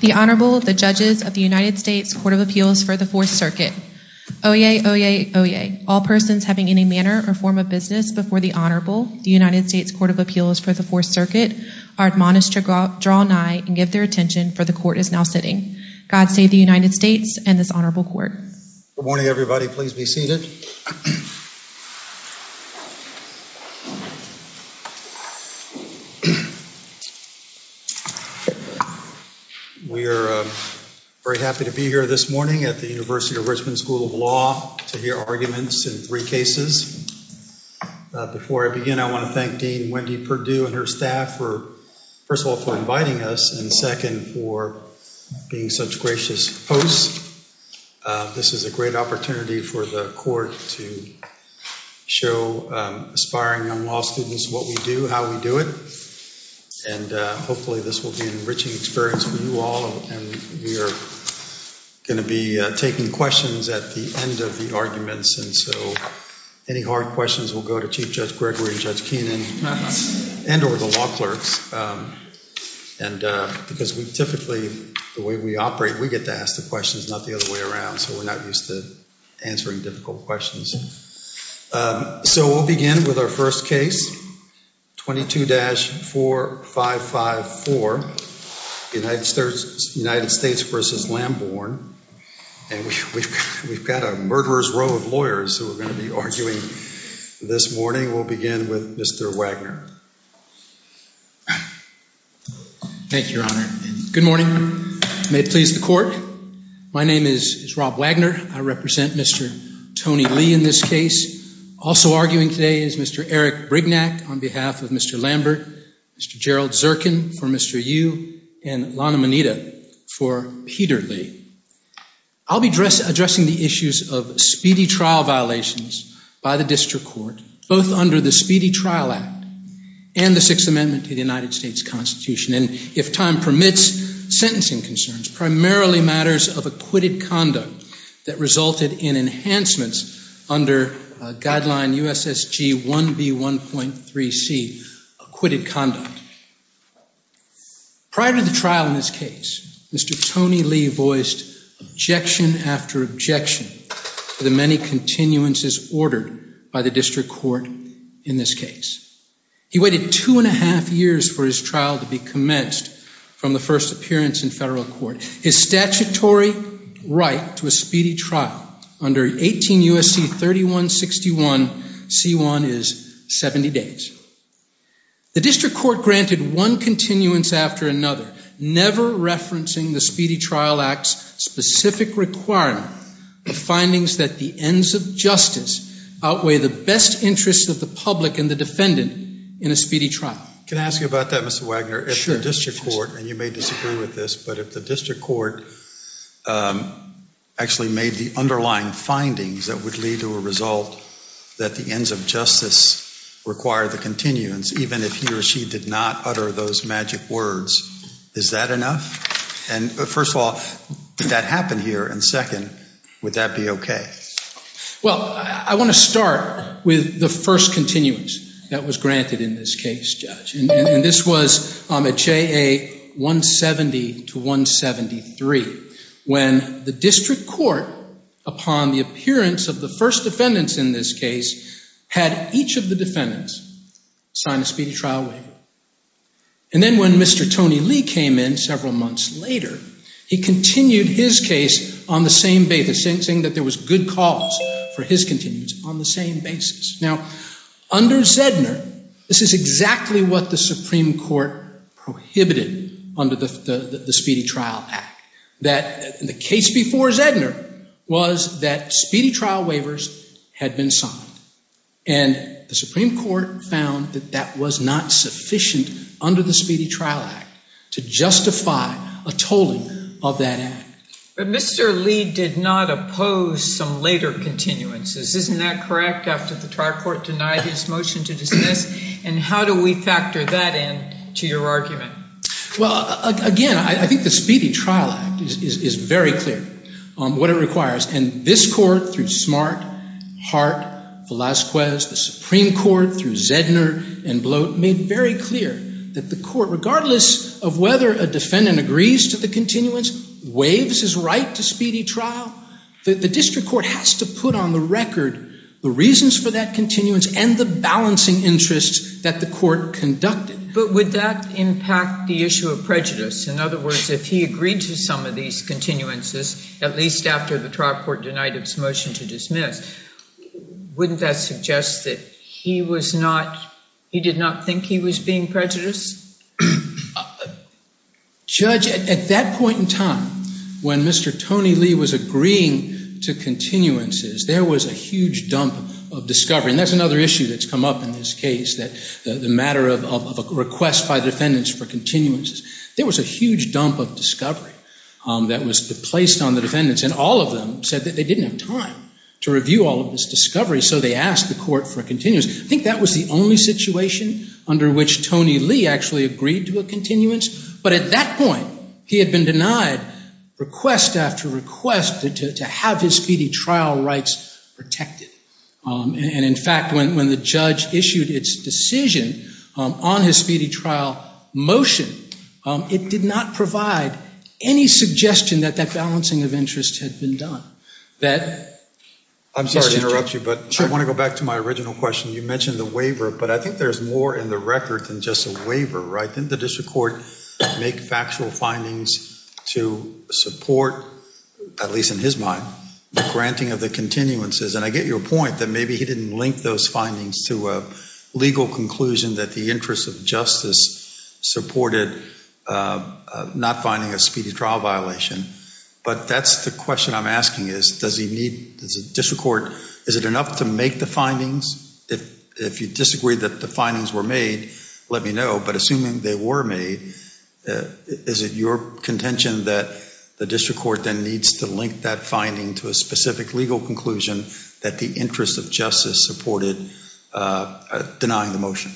The Honorable, the Judges of the United States Court of Appeals for the Fourth Circuit. Oyez, oyez, oyez. All persons having any manner or form of business before the Honorable, the United States Court of Appeals for the Fourth Circuit, are admonished to draw nigh and give their attention, for the Court is now sitting. God save the United States and this Honorable Court. Good morning, everybody. Please be seated. We are very happy to be here this morning at the University of Richmond School of Law to hear arguments in three cases. Before I begin, I want to thank Dean Whitney Perdue and her staff for, first of all, for inviting us, and second, for being such gracious hosts. This is a great opportunity for the Court to show aspiring law students what we do, how we do it. And hopefully this will be an enriching experience for you all, and we are going to be taking questions at the end of the arguments, and so any hard questions will go to Chief Judge Gregory, Judge Keenan, and or the law clerk. And because we typically, the way we operate, we get to ask the questions, not the other way around, so we're not used to answering difficult questions. So we'll begin with our first case, 22-4554, United States v. Lambourne. And we've got a murderer's row of lawyers who are going to be arguing this morning. We'll begin with Mr. Wagner. Thank you, Your Honor. Good morning. May it please the Court. My name is Rob Wagner. I represent Mr. Tony Lee in this case. Also arguing today is Mr. Eric Brignac on behalf of Mr. Lambert, Mr. Gerald Zirkin for Mr. Yu, and Lana Moneta for Peter Lee. I'll be addressing the issues of speedy trial violations by the district court, both under the Speedy Trial Act and the Sixth Amendment to the United States Constitution. And if time permits, sentencing concerns, primarily matters of acquitted conduct that resulted in enhancements under guideline USSG 1B1.3C, acquitted conduct. Prior to the trial in this case, Mr. Tony Lee voiced objection after objection to the many continuances ordered by the district court in this case. He waited two and a half years for his trial to be commenced from the first appearance in federal court. His statutory right to a speedy trial under 18 U.S.C. 3161C1 is 70 days. The district court granted one continuance after another, never referencing the Speedy Trial Act's specific requirement for findings that the ends of justice outweigh the best interest of the public and the defendant in a speedy trial. Can I ask you about that, Mr. Wagner? Sure. If the district court, and you may disagree with this, but if the district court actually made the underlying findings that would lead to a result that the ends of justice require the continuance, even if he or she did not utter those magic words, is that enough? And first of all, that happened here, and second, would that be okay? Well, I want to start with the first continuance that was granted in this case, Judge. And this was on the JA 170 to 173, when the district court, upon the appearance of the first defendants in this case, had each of the defendants sign a speedy trial waiver. And then when Mr. Tony Lee came in several months later, he continued his case on the same basis, saying that there was good cause for his continuance on the same basis. Now, under Zedner, this is exactly what the Supreme Court prohibited under the Speedy Trial Act. The case before Zedner was that speedy trial waivers had been signed, and the Supreme Court found that that was not sufficient under the Speedy Trial Act to justify a total of that act. But Mr. Lee did not oppose some later continuances. Isn't that correct, after the trial court denied his motion to dismiss? And how do we factor that in to your argument? Well, again, I think the Speedy Trial Act is very clear on what it requires. And this court, through Smart, Hart, Velazquez, the Supreme Court, through Zedner, and Blow, made very clear that the court, regardless of whether a defendant agrees to the continuance, waives his right to speedy trial, the district court has to put on the record the reasons for that continuance and the balancing interests that the court conducted. But would that impact the issue of prejudice? In other words, if he agreed to some of these continuances, at least after the trial court denied its motion to dismiss, wouldn't that suggest that he did not think he was being prejudiced? Judge, at that point in time, when Mr. Tony Lee was agreeing to continuances, there was a huge dump of discovery. And that's another issue that's come up in this case, the matter of a request by defendants for continuances. There was a huge dump of discovery that was placed on the defendants. And all of them said that they didn't have time to review all of this discovery. So they asked the court for a continuance. I think that was the only situation under which Tony Lee actually agreed to a continuance. But at that point, he had been denied request after request to have his speedy trial rights protected. And in fact, when the judge issued its decision on his speedy trial motion, it did not provide any suggestion that that balancing of interests had been done. I'm sorry to interrupt you, but I want to go back to my original question. You mentioned the waiver, but I think there's more in the record than just a waiver, right? Didn't the district court make factual findings to support, at least in his mind, the granting of the continuances? And I get your point that maybe he didn't link those findings to a legal conclusion that the interest of justice supported not finding a speedy trial violation. But that's the question I'm asking is, does the district court, is it enough to make the findings? If you disagree that the findings were made, let me know. But assuming they were made, is it your contention that the district court then needs to link that finding to a specific legal conclusion that the interest of justice supported denying the motion?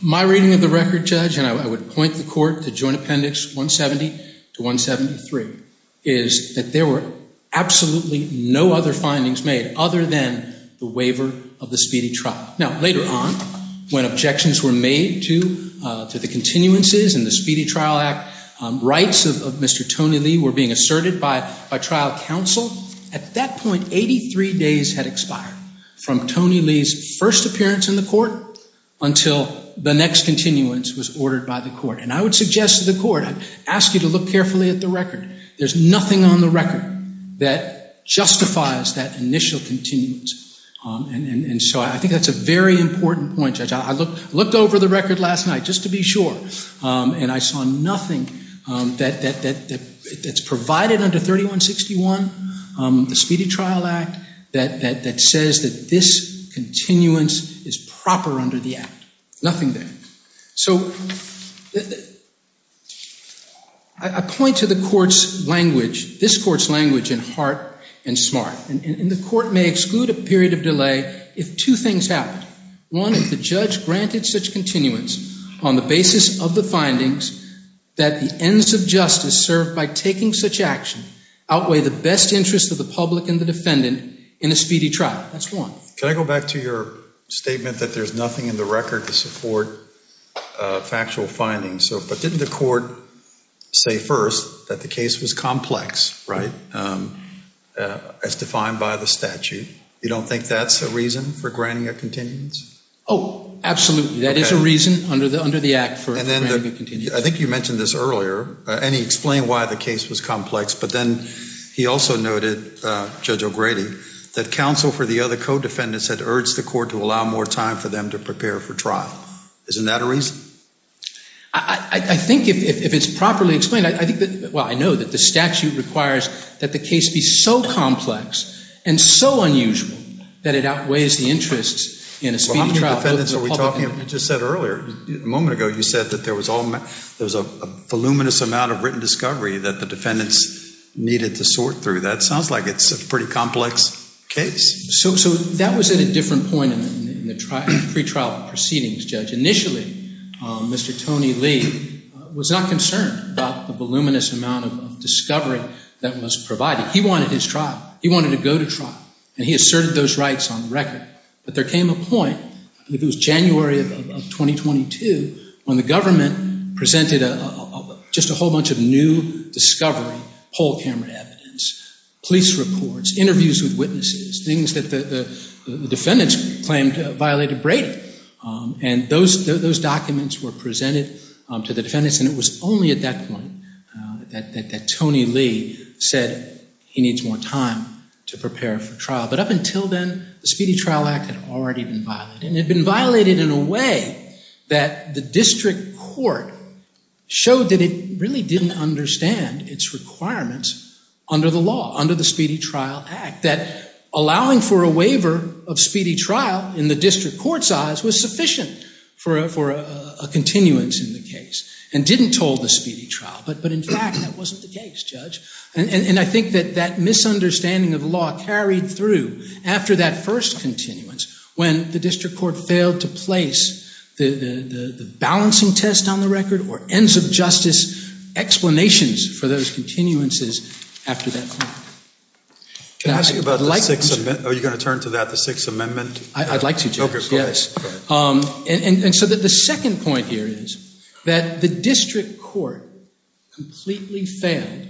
My reading of the record, Judge, and I would point the court to Joint Appendix 170 to 173, is that there were absolutely no other findings made other than the waiver of the speedy trial. Now, later on, when objections were made to the continuances and the Speedy Trial Act, rights of Mr. Tony Lee were being asserted by trial counsel. At that point, 83 days had expired from Tony Lee's first appearance in the court until the next continuance was ordered by the court. And I would suggest to the court, I ask you to look carefully at the record. There's nothing on the record that justifies that initial continuance. And so I think that's a very important point. I looked over the record last night, just to be sure, and I saw nothing that's provided under 3161, the Speedy Trial Act, that says that this continuance is proper under the act. Nothing there. So, I point to the court's language, this court's language, in heart and smart. And the court may exclude a period of delay if two things happen. One, if the judge granted such continuance on the basis of the findings that the ends of justice served by taking such action outweigh the best interest of the public and the defendant in a speedy trial. That's one. Can I go back to your statement that there's nothing in the record to support factual findings? But didn't the court say first that the case was complex, right, as defined by the statute? You don't think that's a reason for granting a continuance? Oh, absolutely. That is a reason under the act for granting a continuance. I think you mentioned this earlier, and he explained why the case was complex, but then he also noted, Judge O'Grady, that counsel for the other co-defendants had urged the court to allow more time for them to prepare for trial. Isn't that a reason? I think if it's properly explained, well, I know that the statute requires that the case be so complex and so unusual that it outweighs the interest in a speedy trial. You just said earlier, a moment ago, you said that there was a voluminous amount of written discovery that the defendants needed to sort through. That sounds like it's a pretty complex case. So that was at a different point in the pretrial proceedings, Judge. Initially, Mr. Tony Lee was not concerned about the voluminous amount of discovery that was provided. He wanted his trial. He wanted to go to trial, and he asserted those rights on record. But there came a point, I think it was January of 2022, when the government presented just a whole bunch of new discovery, whole camera evidence, police reports, interviews with witnesses, things that the defendants claimed violated Brady. And those documents were presented to the defendants, and it was only at that point that Tony Lee said he needs more time to prepare for trial. But up until then, the Speedy Trial Act had already been violated. And it had been violated in a way that the district court showed that it really didn't understand its requirements under the law, under the Speedy Trial Act. That allowing for a waiver of speedy trial in the district court's eyes was sufficient for a continuance in the case and didn't toll the speedy trial. But in fact, that wasn't the case, Judge. And I think that that misunderstanding of the law carried through after that first continuance when the district court failed to place the balancing test on the record or ends of justice explanations for those continuances after that point. Are you going to turn to that, the Sixth Amendment? I'd like to, Judge, yes. And so the second point here is that the district court completely failed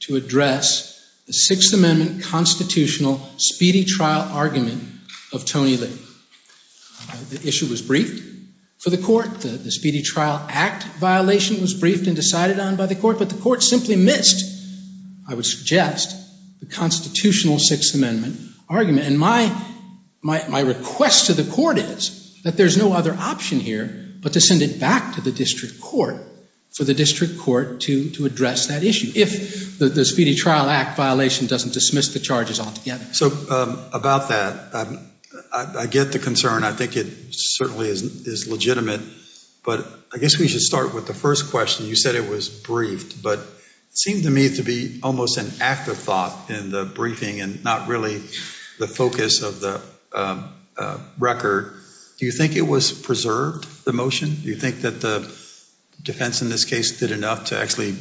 to address the Sixth Amendment constitutional speedy trial argument of Tony Lee. The issue was briefed for the court. The Speedy Trial Act violation was briefed and decided on by the court. But the court simply missed, I would suggest, the constitutional Sixth Amendment argument. And my request to the court is that there's no other option here but to send it back to the district court for the district court to address that issue if the Speedy Trial Act violation doesn't dismiss the charges altogether. So about that, I get the concern. I think it certainly is legitimate. But I guess we should start with the first question. You said it was briefed, but it seemed to me to be almost an act of thought in the briefing and not really the focus of the record. Do you think it was preserved, the motion? Do you think that the defense in this case did enough to actually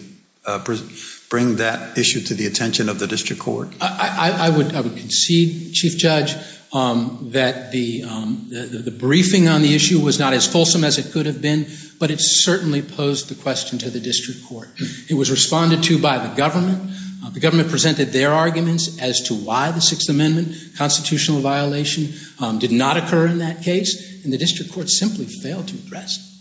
bring that issue to the attention of the district court? I would concede, Chief Judge, that the briefing on the issue was not as fulsome as it could have been, but it certainly posed the question to the district court. It was responded to by the government. The government presented their arguments as to why the Sixth Amendment constitutional violation did not occur in that case. And the district court simply failed to address it.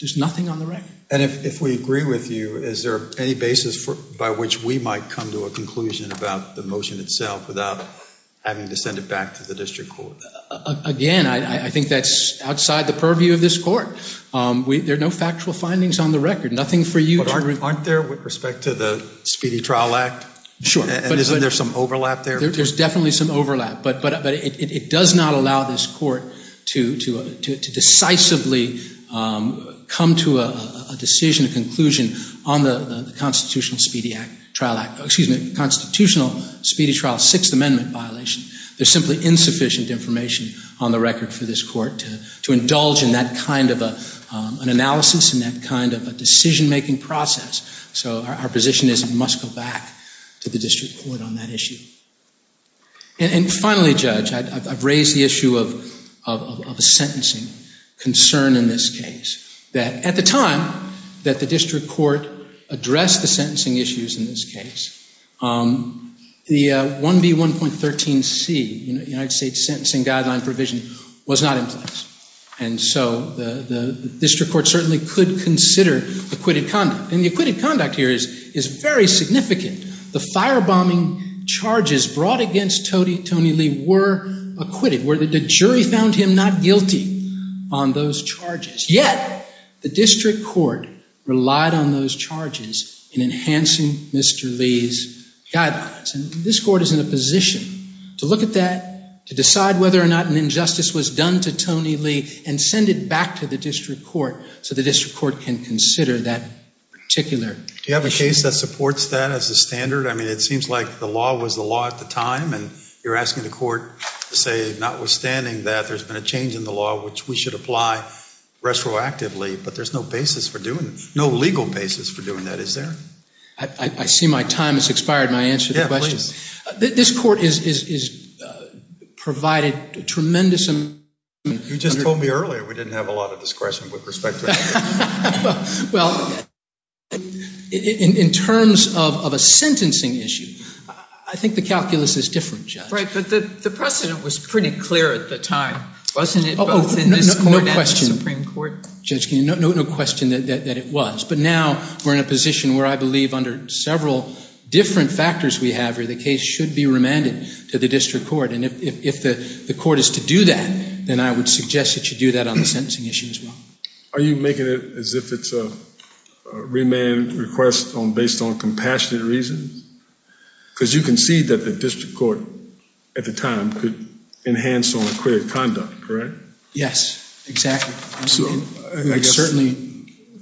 There's nothing on the record. And if we agree with you, is there any basis by which we might come to a conclusion about the motion itself without having to send it back to the district court? Again, I think that's outside the purview of this court. There are no factual findings on the record, nothing for you to argue. Aren't there with respect to the Speedy Trial Act? Sure. And is there some overlap there? There's definitely some overlap. But it does not allow this court to decisively come to a decision, a conclusion, on the Constitutional Speedy Trial Sixth Amendment violation. There's simply insufficient information on the record for this court to indulge in that kind of an analysis and that kind of a decision-making process. So our position is it must go back to the district court on that issue. And finally, Judge, I've raised the issue of a sentencing concern in this case. At the time that the district court addressed the sentencing issues in this case, the 1B1.13c, United States Sentencing Guideline Provision, was not in place. And so the district court certainly could consider acquitted conduct. And the acquitted conduct here is very significant. The firebombing charges brought against Tony Lee were acquitted, where the jury found him not guilty on those charges. Yet, the district court relied on those charges in enhancing Mr. Lee's guidelines. And this court is in a position to look at that, to decide whether or not an injustice was done to Tony Lee, and send it back to the district court so the district court can consider that particular case. Do you have a case that supports that as a standard? I mean, it seems like the law was the law at the time. And you're asking the court to say, notwithstanding that, there's been a change in the law which we should apply retroactively. But there's no basis for doing it, no legal basis for doing that. Is there? I see my time has expired, and I answered your question. This court has provided a tremendous amount of information. You just told me earlier we didn't have a lot of discretion with respect to this case. Well, in terms of a sentencing issue, I think the calculus is different, Judge. Right, but the precedent was pretty clear at the time, wasn't it? Oh, no question. No question that it was. But now we're in a position where I believe under several different factors we have here, the case should be remanded to the district court. And if the court is to do that, then I would suggest that you do that on the sentencing issue as well. Are you making it as if it's a remand request based on compassionate reasons? Because you concede that the district court at the time could enhance on acquitted conduct, correct? Yes, exactly. Certainly,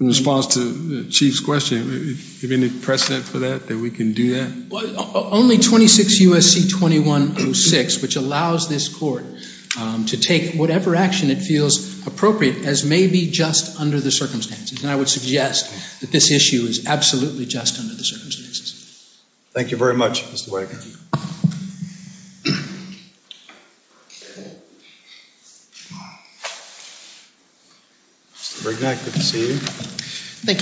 in response to the Chief's question, is there any precedent for that, that we can do that? Only 26 U.S.C. 2106, which allows this court to take whatever action it feels appropriate, as may be just under the circumstances. And I would suggest that this issue is absolutely just under the circumstances. Thank you very much, Mr. Wake. Thank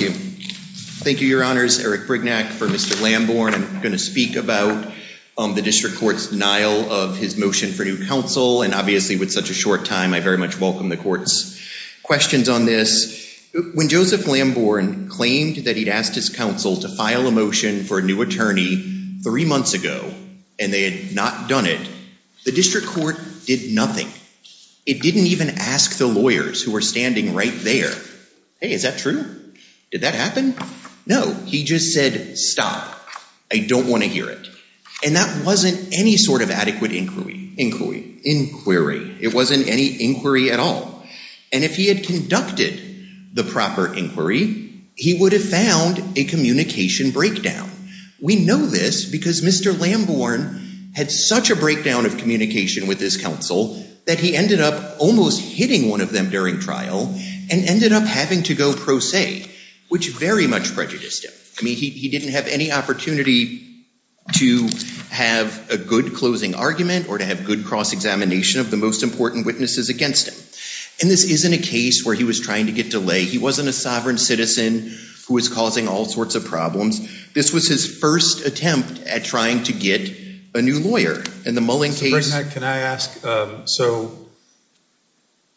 you. Thank you, Your Honors. Eric Brignac for Mr. Lambourne. I'm going to speak about the district court's denial of his motion for new counsel. And obviously with such a short time, I very much welcome the court's questions on this. When Joseph Lambourne claimed that he'd asked his counsel to file a motion for a new attorney three months ago, and they had not done it, the district court did nothing. It didn't even ask the lawyers who were standing right there, hey, is that true? Did that happen? No, he just said, stop. I don't want to hear it. And that wasn't any sort of adequate inquiry. It wasn't any inquiry at all. And if he had conducted the proper inquiry, he would have found a communication breakdown. We know this because Mr. Lambourne had such a breakdown of communication with his counsel that he ended up almost hitting one of them during trial and ended up having to go pro se, which very much prejudiced him. I mean, he didn't have any opportunity to have a good closing argument or to have good cross-examination of the most important witnesses against him. And this isn't a case where he was trying to get to lay. He wasn't a sovereign citizen who was causing all sorts of problems. This was his first attempt at trying to get a new lawyer. Can I ask, so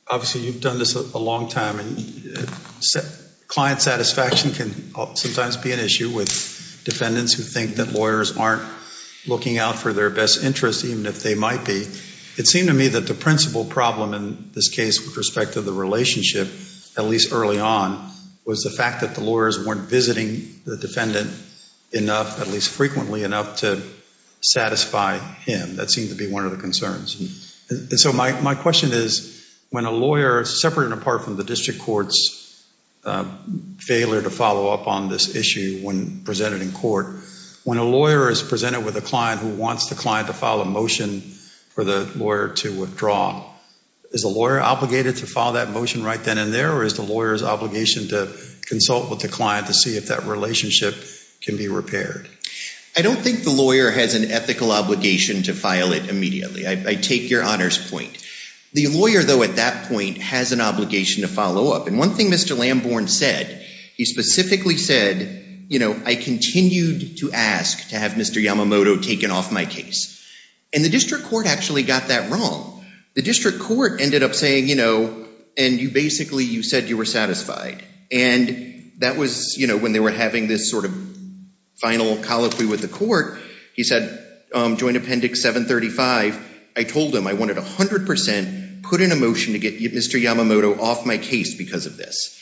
obviously you've done this a long time, and client satisfaction can sometimes be an issue with defendants who think that lawyers aren't looking out for their best interest, even if they might be. It seemed to me that the principal problem in this case with respect to the relationship, at least early on, was the fact that the lawyers weren't visiting the defendant enough, at least frequently enough, to satisfy him. That seemed to be one of the concerns. And so my question is, when a lawyer, separate and apart from the district court's failure to follow up on this issue when presented in court, when a lawyer is presented with a client who wants the client to file a motion for the lawyer to withdraw, is the lawyer obligated to file that motion right then and there, or is the lawyer's obligation to consult with the client to see if that relationship can be repaired? I don't think the lawyer has an ethical obligation to file it immediately. I take your honors point. The lawyer, though, at that point, has an obligation to follow up. And one thing Mr. Lamborn said, he specifically said, you know, I continue to ask to have Mr. Yamamoto taken off my case. And the district court actually got that wrong. The district court ended up saying, you know, and you basically said you were satisfied. And that was, you know, when they were having this sort of final policy with the court, he said, joint appendix 735, I told him I wanted 100 percent, put in a motion to get Mr. Yamamoto off my case because of this.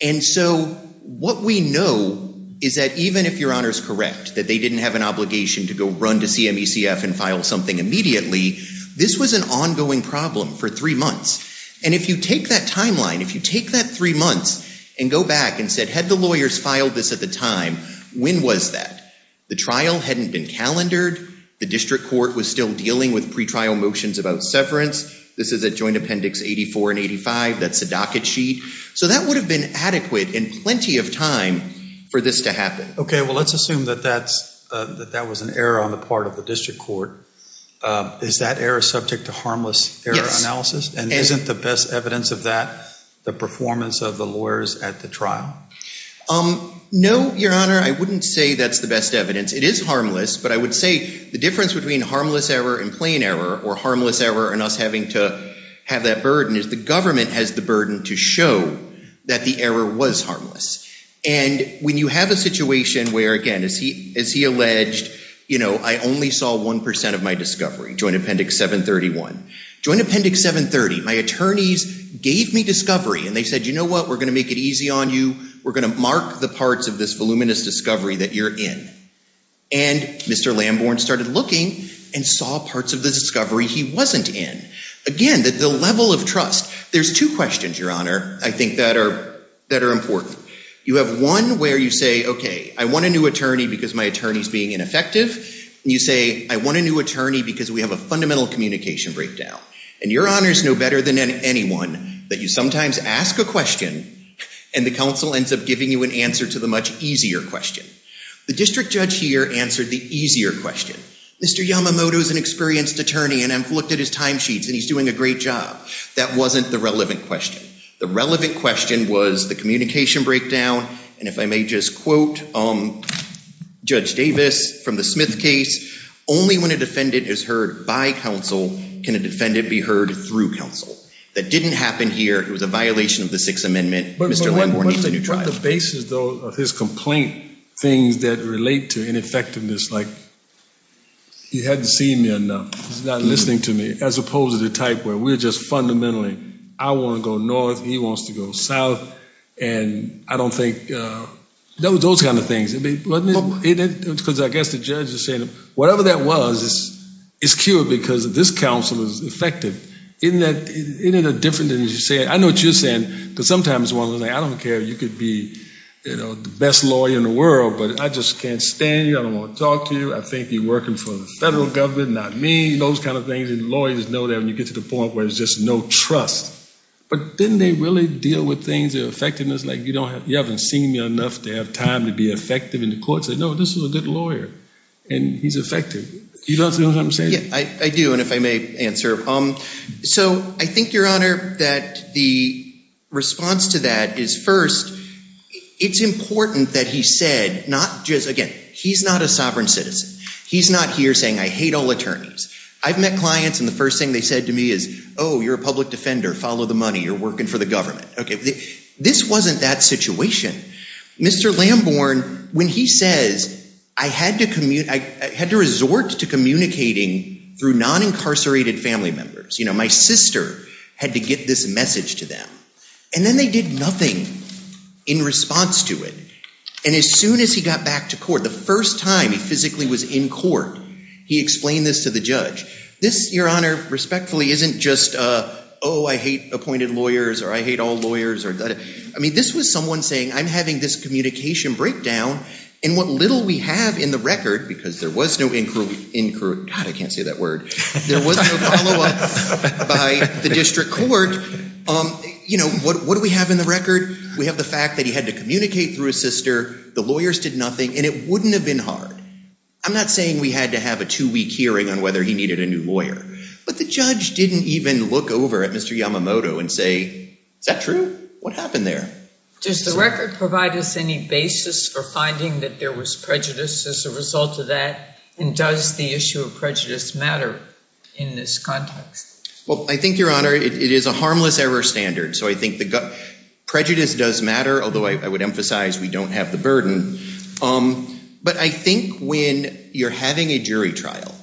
And so what we know is that even if your honor is correct, that they didn't have an obligation to go run to CMECF and file something immediately, this was an ongoing problem for three months. And if you take that timeline, if you take that three months and go back and said, had the lawyers filed this at the time, when was that? The trial hadn't been calendared. The district court was still dealing with pretrial motions about severance. This is a joint appendix 84 and 85. That's a docket sheet. So that would have been adequate and plenty of time for this to happen. Okay, well, let's assume that that was an error on the part of the district court. Is that error subject to harmless error analysis? And isn't the best evidence of that the performance of the lawyers at the trial? No, your honor, I wouldn't say that's the best evidence. It is harmless, but I would say the difference between harmless error and plain error or harmless error and us having to have that burden is the government has the burden to show that the error was harmless. And when you have a situation where, again, as he alleged, I only saw 1% of my discovery, joint appendix 731. Joint appendix 730, my attorneys gave me discovery, and they said, you know what, we're going to make it easy on you. We're going to mark the parts of this voluminous discovery that you're in. And Mr. Lamborn started looking and saw parts of the discovery he wasn't in. Again, the level of trust. There's two questions, your honor, I think that are important. You have one where you say, okay, I want a new attorney because my attorney is being ineffective. And you say, I want a new attorney because we have a fundamental communication breakdown. And your honors know better than anyone that you sometimes ask a question and the counsel ends up giving you an answer to the much easier question. The district judge here answered the easier question. Mr. Yamamoto is an experienced attorney, and I've looked at his timesheets, and he's doing a great job. That wasn't the relevant question. The relevant question was the communication breakdown, and if I may just quote Judge Davis from the Smith case, only when a defendant is heard by counsel can a defendant be heard through counsel. That didn't happen here. It was a violation of the Sixth Amendment. Mr. Lamborn, you said you tried. One of the bases, though, of his complaint thing that relate to ineffectiveness, like he hadn't seen me enough, not listening to me, as opposed to the type where we're just fundamentally, I want to go north and he wants to go south. And I don't think those kind of things. Because I guess the judge is saying, whatever that was, it's cured because this counsel is effective. Isn't that different than you said? I know what you're saying, because sometimes I don't care. You could be the best lawyer in the world, but I just can't stand you. I don't want to talk to you. I think you're working for the federal government, not me, those kind of things. Lawyers know that when you get to the point where there's just no trust. But then they really deal with things, their effectiveness, like you haven't seen me enough to have time to be effective. And the court says, no, this is a good lawyer, and he's effective. Do you understand what I'm saying? I do, and if I may answer. So I think, Your Honor, that the response to that is, first, it's important that he said not just, again, he's not a sovereign citizen. He's not here saying, I hate all attorneys. I've met clients, and the first thing they said to me is, oh, you're a public defender. Follow the money. You're working for the government. Okay, this wasn't that situation. Mr. Lamborn, when he says, I had to resort to communicating through non-incarcerated family members. You know, my sister had to get this message to them. And then they did nothing in response to it. And as soon as he got back to court, the first time he physically was in court, he explained this to the judge. This, Your Honor, respectfully, isn't just, oh, I hate appointed lawyers, or I hate all lawyers. I mean, this was someone saying, I'm having this communication breakdown, and what little we have in the record, because there was no, God, I can't say that word. There was no follow-up by the district court. You know, what do we have in the record? We have the fact that he had to communicate through his sister. The lawyers did nothing, and it wouldn't have been hard. I'm not saying we had to have a two-week hearing on whether he needed a new lawyer. But the judge didn't even look over at Mr. Yamamoto and say, is that true? What happened there? Does the record provide us any basis for finding that there was prejudice as a result of that? And does the issue of prejudice matter in this context? Well, I think, Your Honor, it is a harmless error standard. So I think prejudice does matter, although I would emphasize we don't have the burden. But I think when you're having a jury trial,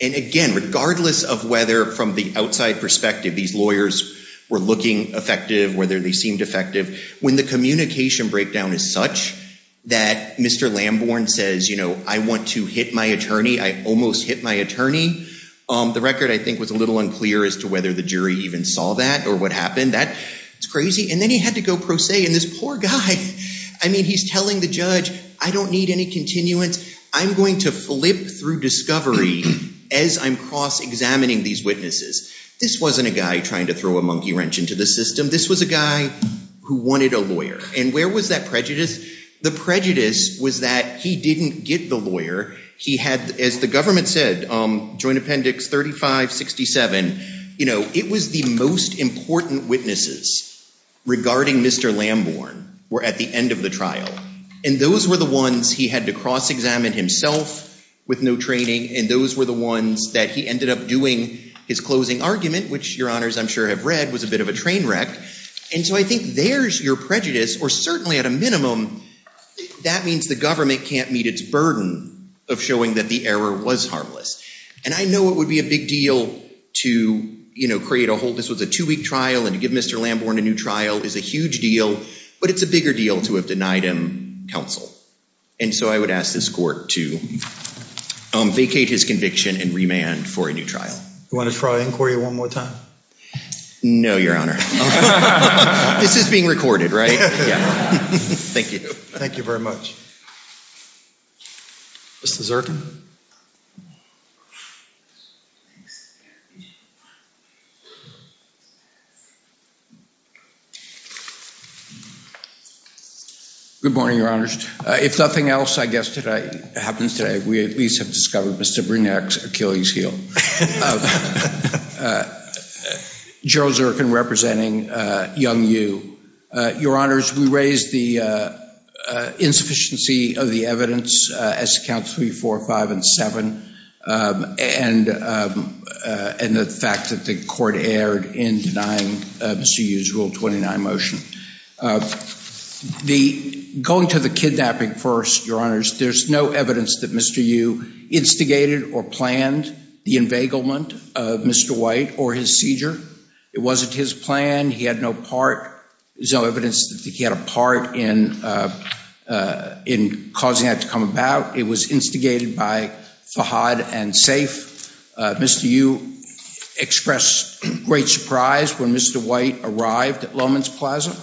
and again, regardless of whether from the outside perspective these lawyers were looking effective, whether they seemed effective, when the communication breakdown is such that Mr. Lamborn says, you know, I want to hit my attorney, I almost hit my attorney, the record I think was a little unclear as to whether the jury even saw that or what happened. That's crazy. And then he had to go pro se, and this poor guy, I mean, he's telling the judge, I don't need any continuance. I'm going to flip through discovery as I'm cross-examining these witnesses. This wasn't a guy trying to throw a monkey wrench into the system. This was a guy who wanted a lawyer. And where was that prejudice? The prejudice was that he didn't get the lawyer. He had, as the government said, Joint Appendix 3567, you know, it was the most important witnesses regarding Mr. Lamborn were at the end of the trial. And those were the ones he had to cross-examine himself with no training, and those were the ones that he ended up doing his closing argument, which, Your Honors, I'm sure have read, was a bit of a train wreck. And so I think there's your prejudice, or certainly at a minimum, that means the government can't meet its burden of showing that the error was harmless. And I know it would be a big deal to, you know, create a whole business with a two-week trial and give Mr. Lamborn a new trial is a huge deal, but it's a bigger deal to have denied him counsel. And so I would ask this court to vacate his conviction and remand for a new trial. You want to try inquiry one more time? No, Your Honor. This is being recorded, right? Thank you. Thank you very much. Mr. Zirkin? Good morning, Your Honors. If nothing else, I guess, happens today, we at least have discovered Mr. Brunier's Achilles heel. Gerald Zirkin representing young you. Your Honors, we raise the insufficiency of the evidence, S accounts 3, 4, 5, and 7, and the fact that the court erred in denying Mr. Yu's Rule 29 motion. Going to the kidnapping first, Your Honors, there's no evidence that Mr. Yu instigated or planned the embegglement of Mr. White or his seizure. It wasn't his plan. He had no part. There's no evidence that he had a part in causing that to come about. It was instigated by Fahad and Safe. Mr. Yu expressed great surprise when Mr. White arrived at Lowman's Plaza.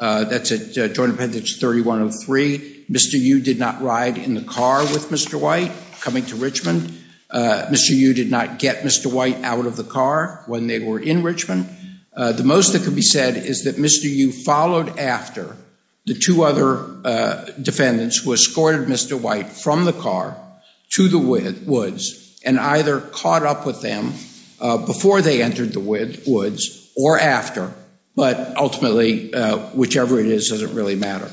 That's at Joint Appendage 3103. Mr. Yu did not ride in the car with Mr. White coming to Richmond. Mr. Yu did not get Mr. White out of the car when they were in Richmond. The most that can be said is that Mr. Yu followed after the two other defendants who escorted Mr. White from the car to the woods and either caught up with them before they entered the woods or after, but ultimately, whichever it is, it doesn't really matter.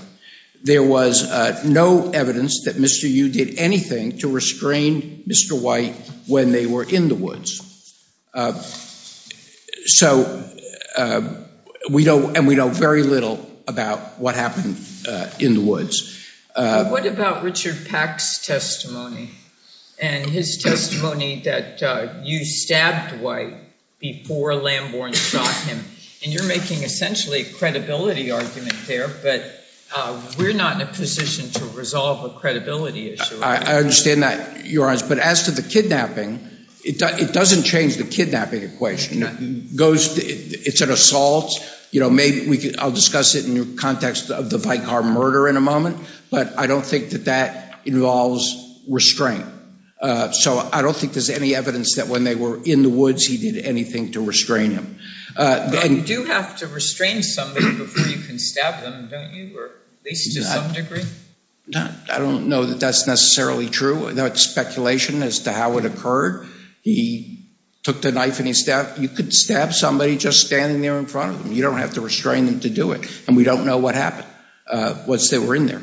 There was no evidence that Mr. Yu did anything to restrain Mr. White when they were in the woods. And we know very little about what happened in the woods. What about Richard Pack's testimony and his testimony that Yu stabbed White before Lambourne shot him? And you're making essentially a credibility argument there, but we're not in a position to resolve a credibility issue. I understand that, Your Honor, but as to the kidnapping, it doesn't change the kidnapping equation. It's an assault. I'll discuss it in the context of the bike car murder in a moment, but I don't think that that involves restraint. So I don't think there's any evidence that when they were in the woods, he did anything to restrain him. You do have to restrain somebody before you can stab them, don't you, or they can do something different? I don't know that that's necessarily true. That's speculation as to how it occurred. He took the knife and he stabbed. You could stab somebody just standing there in front of them. You don't have to restrain them to do it, and we don't know what happened once they were in there.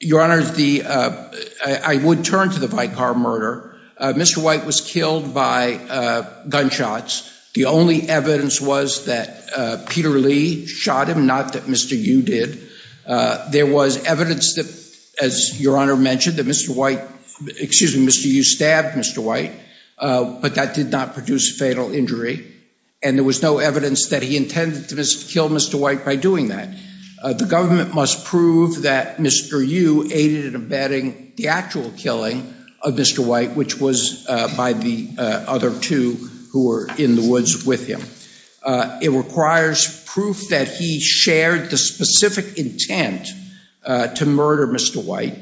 Your Honor, I would turn to the bike car murder. Mr. White was killed by gunshots. The only evidence was that Peter Lee shot him, not that Mr. Yu did. There was evidence that, as Your Honor mentioned, that Mr. Yu stabbed Mr. White, but that did not produce fatal injury, and there was no evidence that he intended to kill Mr. White by doing that. The government must prove that Mr. Yu aided in abetting the actual killing of Mr. White, which was by the other two who were in the woods with him. It requires proof that he shared the specific intent to murder Mr. White.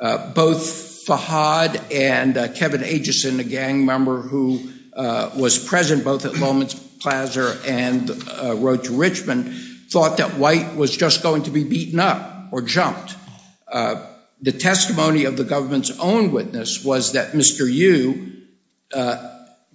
Both Fahad and Kevin Ageson, a gang member who was present both at Lowman's Plaza and Road to Richmond, thought that White was just going to be beaten up or jumped. The testimony of the government's own witness was that Mr. Yu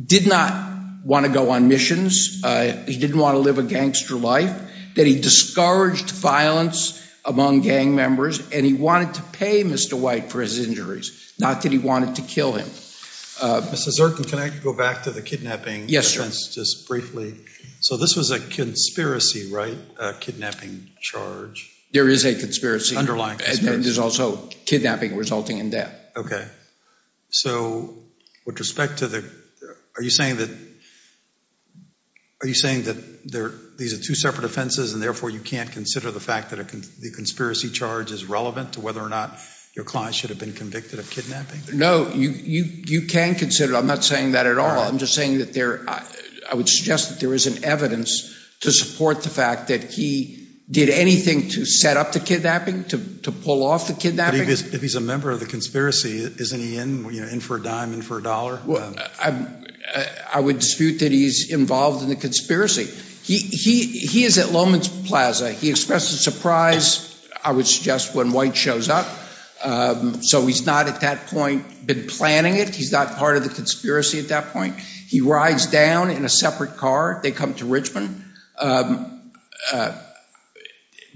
did not want to go on missions. He didn't want to live a gangster life, that he discouraged violence among gang members, and he wanted to pay Mr. White for his injuries, not that he wanted to kill him. Mr. Zirkin, can I go back to the kidnapping? Yes, Your Honor. Just briefly. So this was a conspiracy, right, a kidnapping charge? There is a conspiracy. Underlying conspiracy. And there's also kidnapping resulting in death. Okay. So with respect to the—are you saying that these are two separate offenses and therefore you can't consider the fact that the conspiracy charge is relevant to whether or not your client should have been convicted of kidnapping? No, you can consider it. I'm not saying that at all. I'm just saying that there—I would suggest that there is an evidence to support the fact that he did anything to set up the kidnapping, to pull off the kidnapping. But if he's a member of the conspiracy, isn't he in for a dime, in for a dollar? Well, I would dispute that he's involved in the conspiracy. He is at Lowman's Plaza. He expressed a surprise, I would suggest, when White shows up. So he's not at that point been planning it. He's not part of the conspiracy at that point. He rides down in a separate car. They come to Richmond. This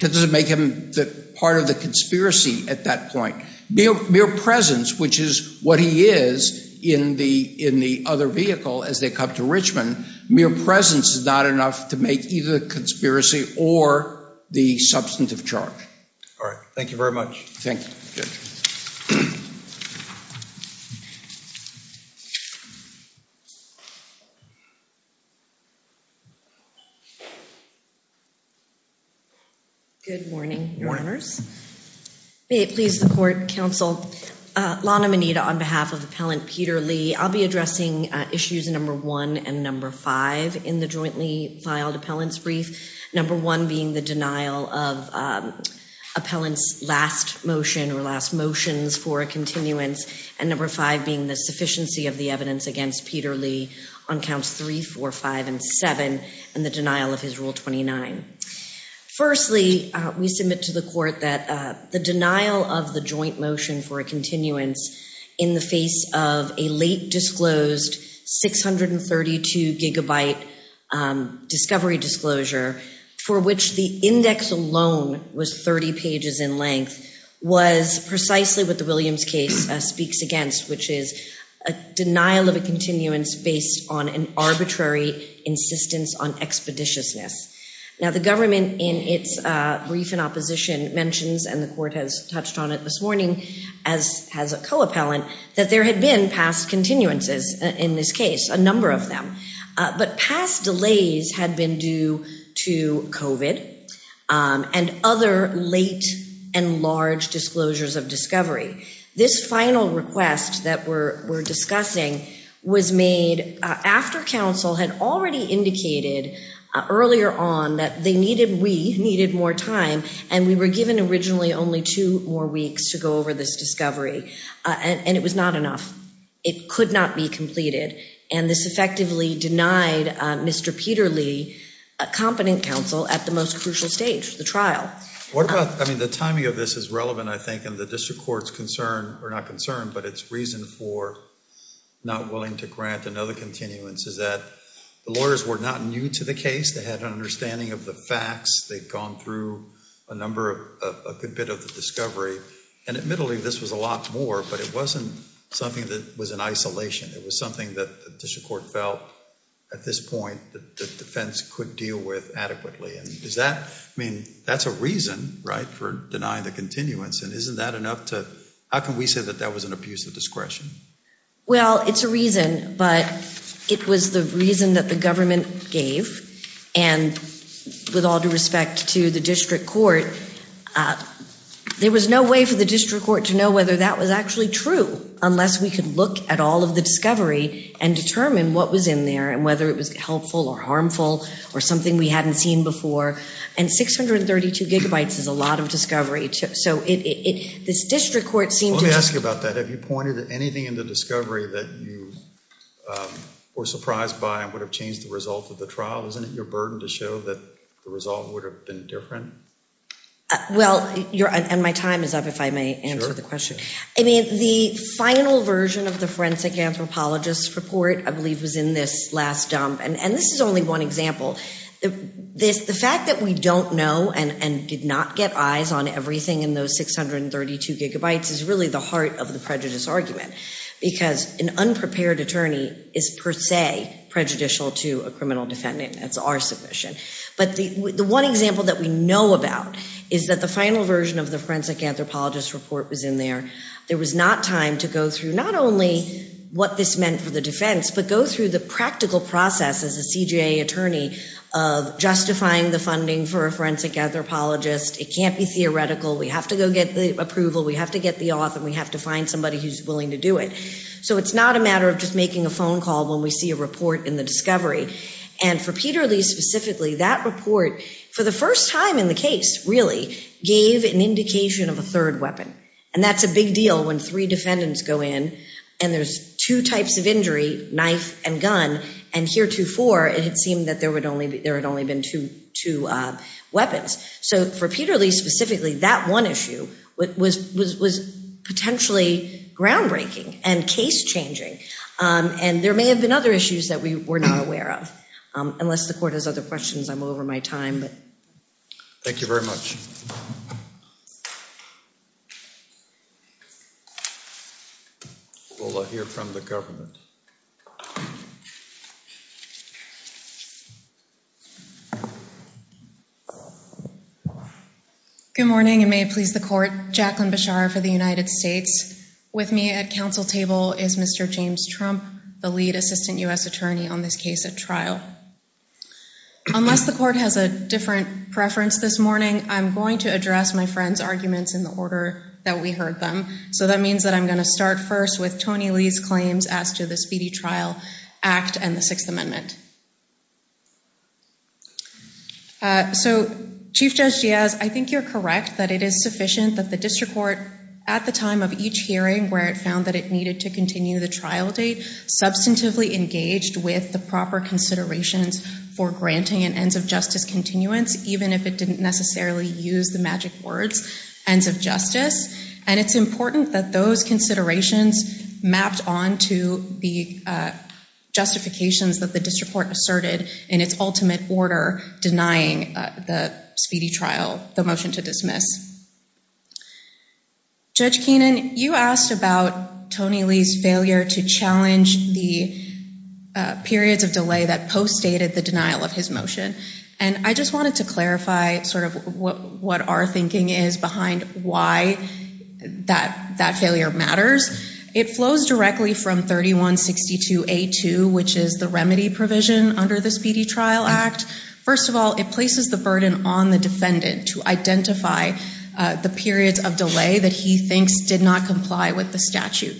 doesn't make him part of the conspiracy at that point. Mere presence, which is what he is in the other vehicle as they come to Richmond, mere presence is not enough to make these a conspiracy or the substantive charge. All right. Thank you very much. Thank you. Good morning, Warreners. May it please the court, counsel. Lana Moneda on behalf of Appellant Peter Lee. I'll be addressing issues number one and number five in the jointly filed appellant's brief, number one being the denial of appellant's last motion or last motions for a continuance, and number five being the sufficiency of the evidence against Peter Lee on counts three, four, five, and seven and the denial of his Rule 29. Firstly, we submit to the court that the denial of the joint motion for a continuance in the face of a late disclosed 632 gigabyte discovery disclosure for which the index alone was 30 pages in length was precisely what the Williams case speaks against, which is a denial of a continuance based on an arbitrary insistence on expeditiousness. Now, the government in its brief in opposition mentions, and the court has touched on it this morning as a co-appellant, that there had been past continuances in this case, a number of them. But past delays had been due to COVID and other late and large disclosures of discovery. This final request that we're discussing was made after counsel had already indicated earlier on that we needed more time, and we were given originally only two more weeks to go over this discovery, and it was not enough. It could not be completed, and this effectively denied Mr. Peter Lee, a competent counsel, at the most crucial stage, the trial. I mean, the timing of this is relevant, I think, and the district court's concern, or not concern, but its reason for not willing to grant another continuance, is that the lawyers were not new to the case. They had an understanding of the facts. They'd gone through a good bit of discovery, and admittedly, this was a lot more, but it wasn't something that was in isolation. It was something that the district court felt, at this point, that the defense could deal with adequately. I mean, that's a reason, right, for denying the continuance, and isn't that enough to, how can we say that that was an abuse of discretion? Well, it's a reason, but it was the reason that the government gave, and with all due respect to the district court, there was no way for the district court to know whether that was actually true, unless we could look at all of the discovery, and determine what was in there, and whether it was helpful or harmful, or something we hadn't seen before, and 632 gigabytes is a lot of discovery, so this district court seemed to... Being in the discovery that you were surprised by, and would have changed the result of the trial, isn't it your burden to show that the result would have been different? Well, and my time is up, if I may answer the question. I mean, the final version of the forensic anthropologist report, I believe, was in this last dump, and this is only one example. The fact that we don't know, and did not get eyes on everything in those 632 gigabytes, is really the heart of the prejudice argument, because an unprepared attorney is, per se, prejudicial to a criminal defendant, as far as submission, but the one example that we know about is that the final version of the forensic anthropologist report was in there. There was not time to go through not only what this meant for the defense, but go through the practical process as a CJA attorney of justifying the funding for a forensic anthropologist. It can't be theoretical. We have to go get the approval. We have to get the author. We have to find somebody who's willing to do it. So it's not a matter of just making a phone call when we see a report in the discovery. And for Peter Lee specifically, that report, for the first time in the case, really, gave an indication of a third weapon. And that's a big deal when three defendants go in, and there's two types of injury, knife and gun, and heretofore it seemed that there had only been two weapons. So for Peter Lee specifically, that one issue was potentially groundbreaking and case-changing, and there may have been other issues that we were not aware of. Unless the court has other questions, I'm all over my time. Thank you very much. We'll hear from the government. Good morning, and may it please the court. Jacqueline Bechara for the United States. With me at council table is Mr. James Trump, the lead assistant U.S. attorney on this case at trial. Unless the court has a different preference this morning, I'm going to address my friends' arguments in the order that we heard them. So that means that I'm going to start first with Tony Lee's claims after the Speedy Trial Act and the Sixth Amendment. So Chief Judge Giaz, I think you're correct that it is sufficient that the district court, at the time of each hearing where it found that it needed to continue the trial date, substantively engaged with the proper considerations for granting an ends of justice continuance, even if it didn't necessarily use the magic word ends of justice. And it's important that those considerations match on to the justifications that the district court asserted in its ultimate order denying the Speedy Trial the motion to dismiss. Judge Keenan, you asked about Tony Lee's failure to challenge the period of delay that postdated the denial of his motion. And I just wanted to clarify sort of what our thinking is behind why that failure matters. It flows directly from 3162A2, which is the remedy provision under the Speedy Trial Act. First of all, it places the burden on the defendant to identify the period of delay that he thinks did not comply with the statute.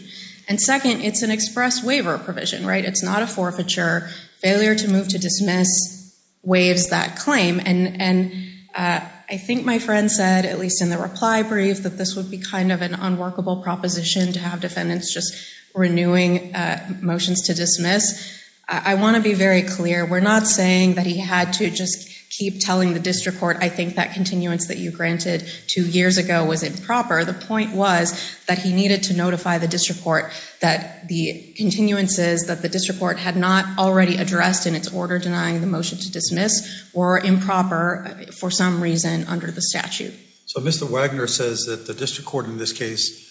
And second, it's an express waiver provision, right? It's not a forfeiture. Failure to move to dismiss waives that claim. And I think my friend said, at least in the reply brief, that this would be kind of an unworkable proposition to have defendants just renewing motions to dismiss. I want to be very clear. We're not saying that he had to just keep telling the district court, I think that continuance that you granted two years ago was improper. The point was that he needed to notify the district court that the continuances that the district court had not already addressed in its order denying the motion to dismiss were improper for some reason under the statute. So Mr. Wagner says that the district court in this case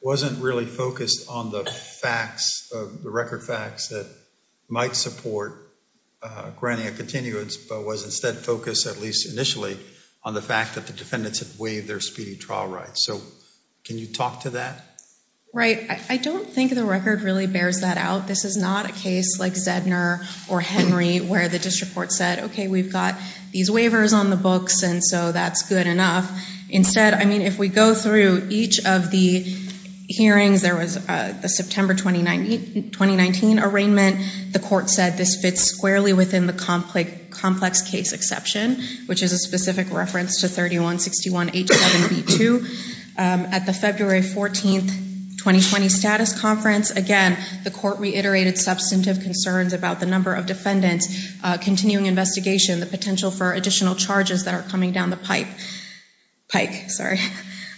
wasn't really focused on the facts, the record facts that might support granting a continuance, but was instead focused, at least initially, on the fact that the defendants had waived their speedy trial rights. So can you talk to that? Right. I don't think the record really bears that out. This is not a case like Zegner or Henry where the district court said, okay, we've got these waivers on the books and so that's good enough. Instead, if we go through each of the hearings, there was a September 2019 arraignment. The court said this fits squarely within the complex case exception, which is a specific reference to 3161A7B2. At the February 14th 2020 status conference, again, the court reiterated substantive concerns about the number of defendants, continuing investigation, the potential for additional charges that are coming down the pipe.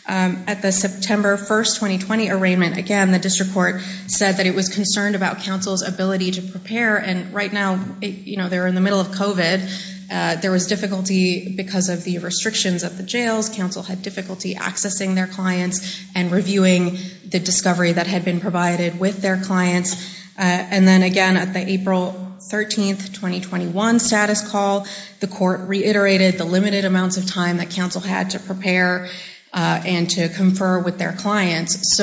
At the September 1st 2020 arraignment, again, the district court said that it was concerned about counsel's ability to prepare and right now they're in the middle of COVID. There was difficulty because of the restrictions of the jails. Counsel had difficulty accessing their clients and reviewing the discovery that had been provided with their clients. Again, at the April 13th 2021 status call, the court reiterated the limited amount of time that counsel had to prepare and to confer with their clients.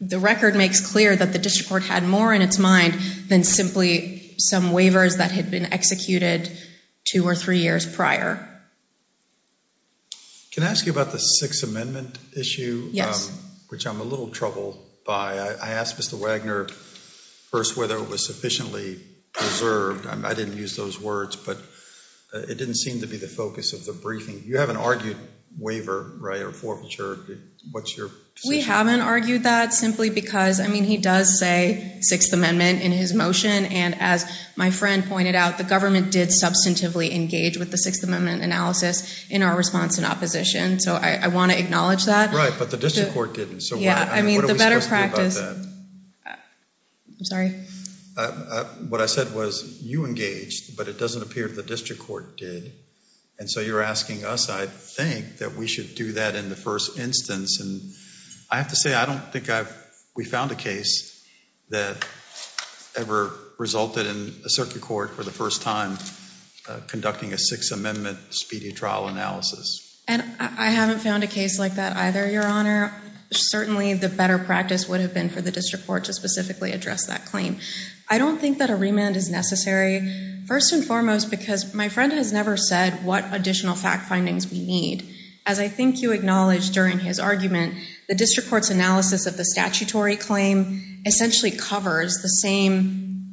The record makes clear that the district court had more in its mind than simply some waivers that had been executed two or three years prior. Can I ask you about the Sixth Amendment issue, which I'm a little troubled by? I asked Mr. Wagner first whether it was sufficiently reserved. I didn't use those words, but it didn't seem to be the focus of the briefing. You haven't argued waiver, right, or forfeiture. We haven't argued that simply because, I mean, he does say Sixth Amendment in his motion and as my friend pointed out, the government did substantively engage with the Sixth Amendment analysis in our response in opposition, so I want to acknowledge that. Right, but the district court didn't. Yeah, I mean, the better practice... Sorry. What I said was you engaged, but it doesn't appear the district court did, and so you're asking us, I think, that we should do that in the first instance, and I have to say I don't think we found a case that ever resulted in a circuit court for the first time conducting a Sixth Amendment speedy trial analysis. And I haven't found a case like that either, Your Honor. Certainly the better practice would have been for the district court to specifically address that claim. I don't think that a remand is necessary, first and foremost, because my friend has never said what additional fact findings we need. As I think you acknowledged during his argument, the district court's analysis of the statutory claim essentially covers the same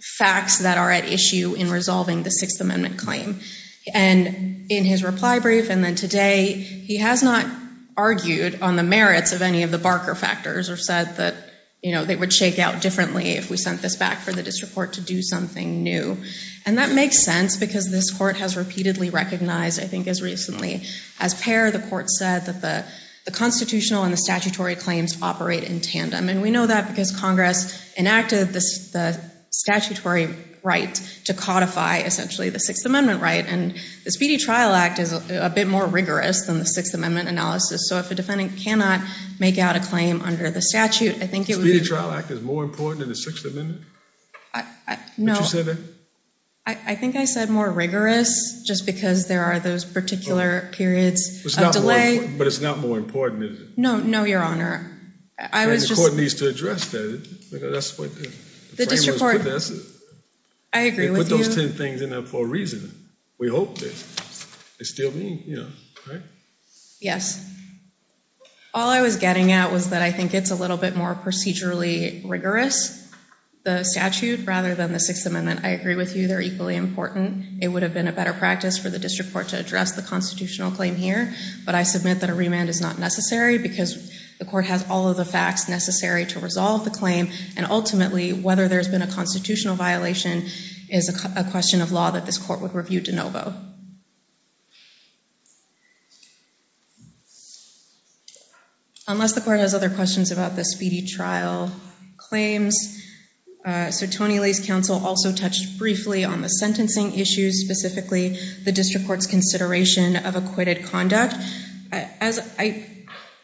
facts that are at issue in resolving the Sixth Amendment claim, and in his reply brief and then today, he has not argued on the merits of any of the Barker factors or said that they would shake out differently if we sent this back for the district court to do something new. And that makes sense because this court has repeatedly recognized, I think as recently as Per, the court said that the constitutional and the statutory claims operate in tandem, and we know that because Congress enacted the statutory right to codify essentially the Sixth Amendment right, and the Speedy Trial Act is a bit more rigorous than the Sixth Amendment analysis. So if a defendant cannot make out a claim under the statute, I think it would be— The Speedy Trial Act is more important than the Sixth Amendment? No. Did you say that? I think I said more rigorous just because there are those particular periods of delay. But it's not more important, is it? No, Your Honor. The court needs to address that. The district court— I agree with you. They put those 10 things in there for a reason. We hope they still mean, you know, right? Yes. All I was getting at was that I think it's a little bit more procedurally rigorous, the statute, rather than the Sixth Amendment. I agree with you. They're equally important. It would have been a better practice for the district court to address the constitutional claim here, but I submit that a remand is not necessary because the court has all of the facts necessary to resolve the claim. And ultimately, whether there's been a constitutional violation is a question of law that this court would review de novo. Unless the court has other questions about the speedy trial claims, Tony Lace Counsel also touched briefly on the sentencing issues, specifically the district court's consideration of acquitted conduct. As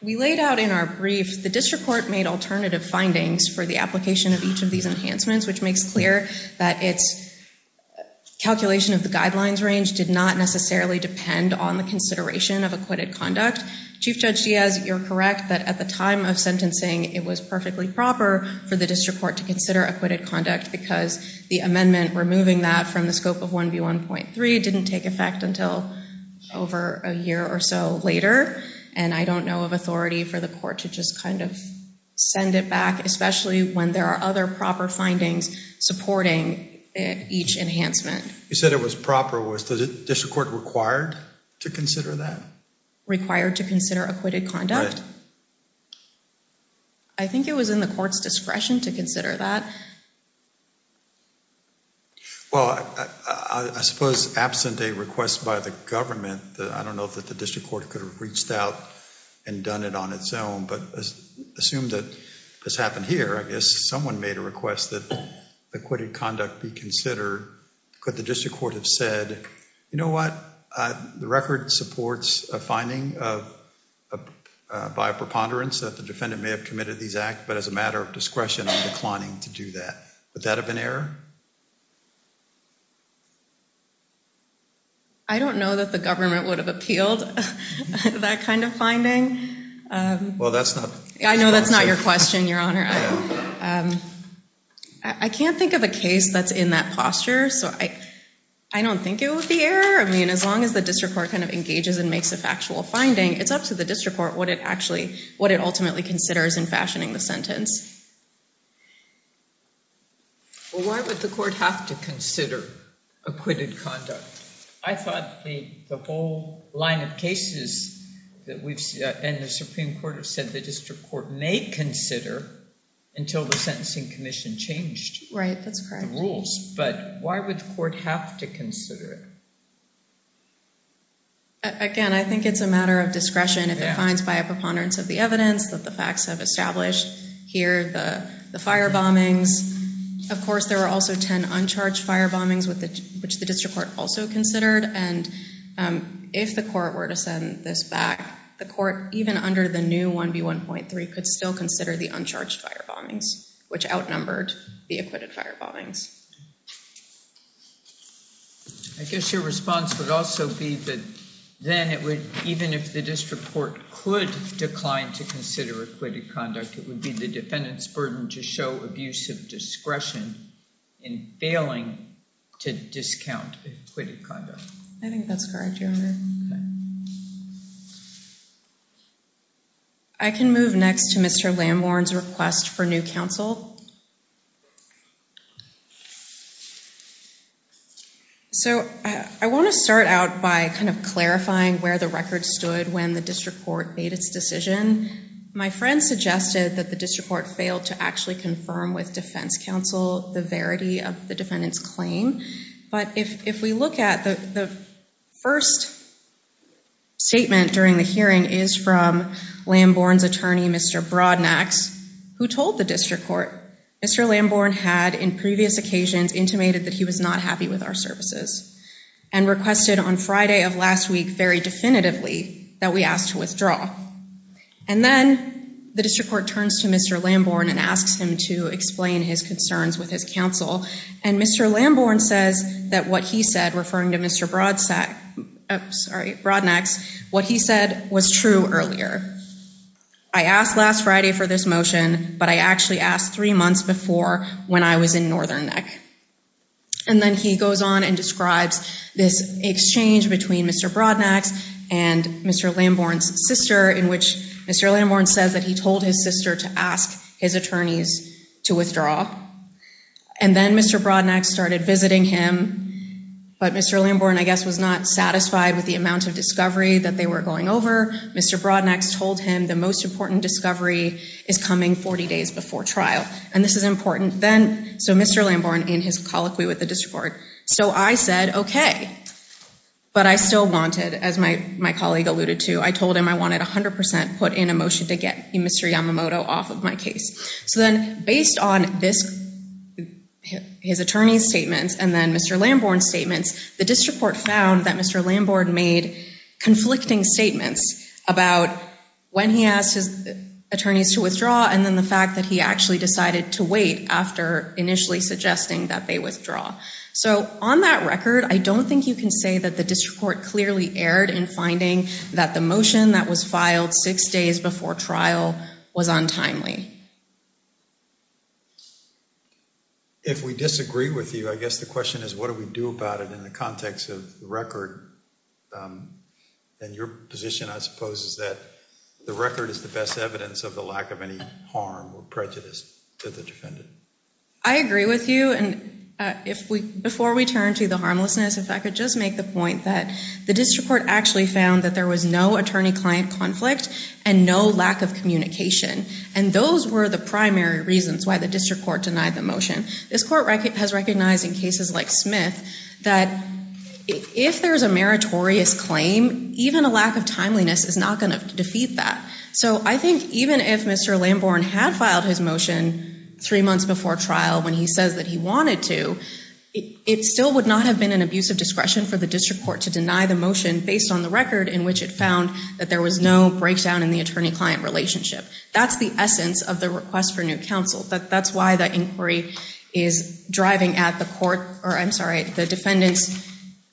we laid out in our brief, the district court made alternative findings for the application of each of these enhancements, which makes clear that its calculation of the guidelines range did not necessarily depend on the consideration of acquitted conduct. Chief Judge Diaz, you're correct that at the time of sentencing, it was perfectly proper for the district court to consider acquitted conduct because the amendment removing that from the scope of 1B1.3 didn't take effect until over a year or so later. And I don't know of authority for the court to just kind of send it back, especially when there are other proper findings supporting each enhancement. You said it was proper. Was the district court required to consider that? Required to consider acquitted conduct? Right. I think it was in the court's discretion to consider that. Well, I suppose absent a request by the government, I don't know if the district court could have reached out and done it on its own, but assume that this happened here, I guess someone made a request that acquitted conduct be considered. Could the district court have said, you know what, the record supports a finding by a preponderance that the defendant may have committed these acts, but as a matter of discretion, I'm declining to do that. Would that have been error? I don't know that the government would have appealed that kind of finding. Well, that's not... I know that's not your question, Your Honor. I can't think of a case that's in that posture, so I don't think it was the error. I mean, as long as the district court kind of engages and makes this actual finding, it's up to the district court what it actually, what it ultimately considers in fashioning the sentence. Well, why would the court have to consider acquitted conduct? I thought the whole line of cases that we've seen in the Supreme Court have said the district court may consider until the sentencing commission changed the rules. Right, that's correct. But why would the court have to consider it? Again, I think it's a matter of discretion. It's defined by a preponderance of the evidence that the facts have established. Here's the fire bombings. Of course, there are also 10 uncharged fire bombings which the district court also considered. And if the court were to send this back, the court, even under the new 1B1.3, could still consider the uncharged fire bombings, which outnumbered the acquitted fire bombings. I guess your response would also be that then even if the district court could decline to consider acquitted conduct, it would be the defendant's burden to show abusive discretion in failing to discount acquitted conduct. I think that's correct, Your Honor. I can move next to Mr. Lamborn's request for new counsel. I want to start out by kind of clarifying where the record stood when the district court made its decision. My friend suggested that the district court failed to actually confirm with defense counsel the verity of the defendant's claim. But if we look at the first statement during the hearing, it is from Lamborn's attorney, Mr. Brodnack, who told the district court, Mr. Lamborn had, in previous occasions, intimated that he was not happy with our services and requested on Friday of last week very definitively that we ask to withdraw. And then the district court turns to Mr. Lamborn and asks him to explain his concerns with his counsel. And Mr. Lamborn says that what he said, referring to Mr. Brodnack, what he said was true earlier. I asked last Friday for this motion, but I actually asked three months before when I was in Northern Neck. And then he goes on and describes this exchange between Mr. Brodnack and Mr. Lamborn's sister, in which Mr. Lamborn says that he told his sister to ask his attorneys to withdraw. And then Mr. Brodnack started visiting him, but Mr. Lamborn, I guess, was not satisfied with the amount of discovery that they were going over. Mr. Brodnack told him the most important discovery is coming 40 days before trial. And this is important. So Mr. Lamborn, in his colloquy with the district court, So I said, okay. But I still wanted, as my colleague alluded to, I told him I wanted 100% put in a motion to get Mr. Yamamoto off of my case. So then, based on his attorney's statement and then Mr. Lamborn's statement, the district court found that Mr. Lamborn made conflicting statements about when he asked his attorneys to withdraw and then the fact that he actually decided to wait after initially suggesting that they withdraw. So on that record, I don't think you can say that the district court clearly erred in finding that the motion that was filed six days before trial was untimely. If we disagree with you, I guess the question is what do we do about it in the context of the record? And your position, I suppose, is that the record is the best evidence of the lack of any harm or prejudice to the defendant. I agree with you. Before we turn to the harmlessness, if I could just make the point that the district court actually found that there was no attorney-client conflict and no lack of communication. And those were the primary reasons why the district court denied the motion. This court has recognized in cases like Smith that if there's a meritorious claim, even a lack of timeliness is not going to defeat that. So I think even if Mr. Lamborn had filed his motion three months before trial when he says that he wanted to, it still would not have been an abusive discretion for the district court to deny the motion based on the record in which it found that there was no breakdown in the attorney-client relationship. That's the essence of the request for new counsel. That's why the inquiry is driving at the court, or I'm sorry, the defendant's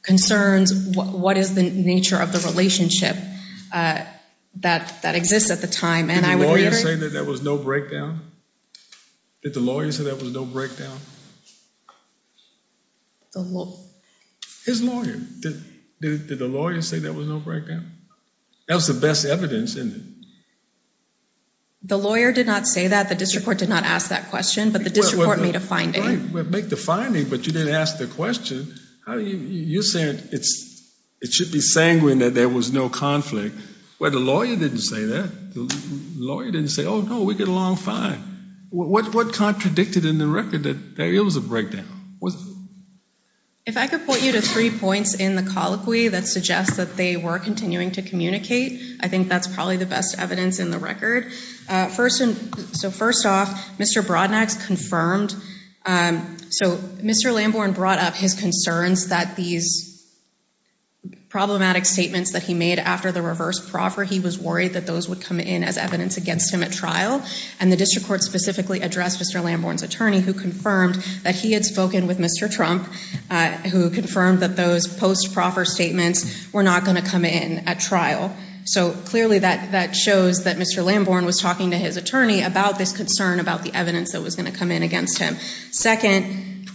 concerns, what is the nature of the relationship that exists at the time. Did the lawyer say that there was no breakdown? Did the lawyer say there was no breakdown? His lawyer. Did the lawyer say there was no breakdown? That was the best evidence, isn't it? The lawyer did not say that. The district court did not ask that question, but the district court made a finding. Make the finding, but you didn't ask the question. You're saying it should be sanguine that there was no conflict. Well, the lawyer didn't say that. The lawyer didn't say, oh, no, we did a long find. What contradicted in the record that there is a breakdown? If I could point you to three points in the colloquy that suggest that they were continuing to communicate, I think that's probably the best evidence in the record. First, so first off, Mr. Brodnag confirmed, so Mr. Lamborn brought up his concerns that these problematic statements that he made after the reverse proffer, he was worried that those would come in as evidence against him at trial, and the district court specifically addressed Mr. Lamborn's attorney who confirmed that he had spoken with Mr. Trump who confirmed that those post-proffer statements were not going to come in at trial. So clearly that shows that Mr. Lamborn was talking to his attorney about this concern about the evidence that was going to come in against him. Second,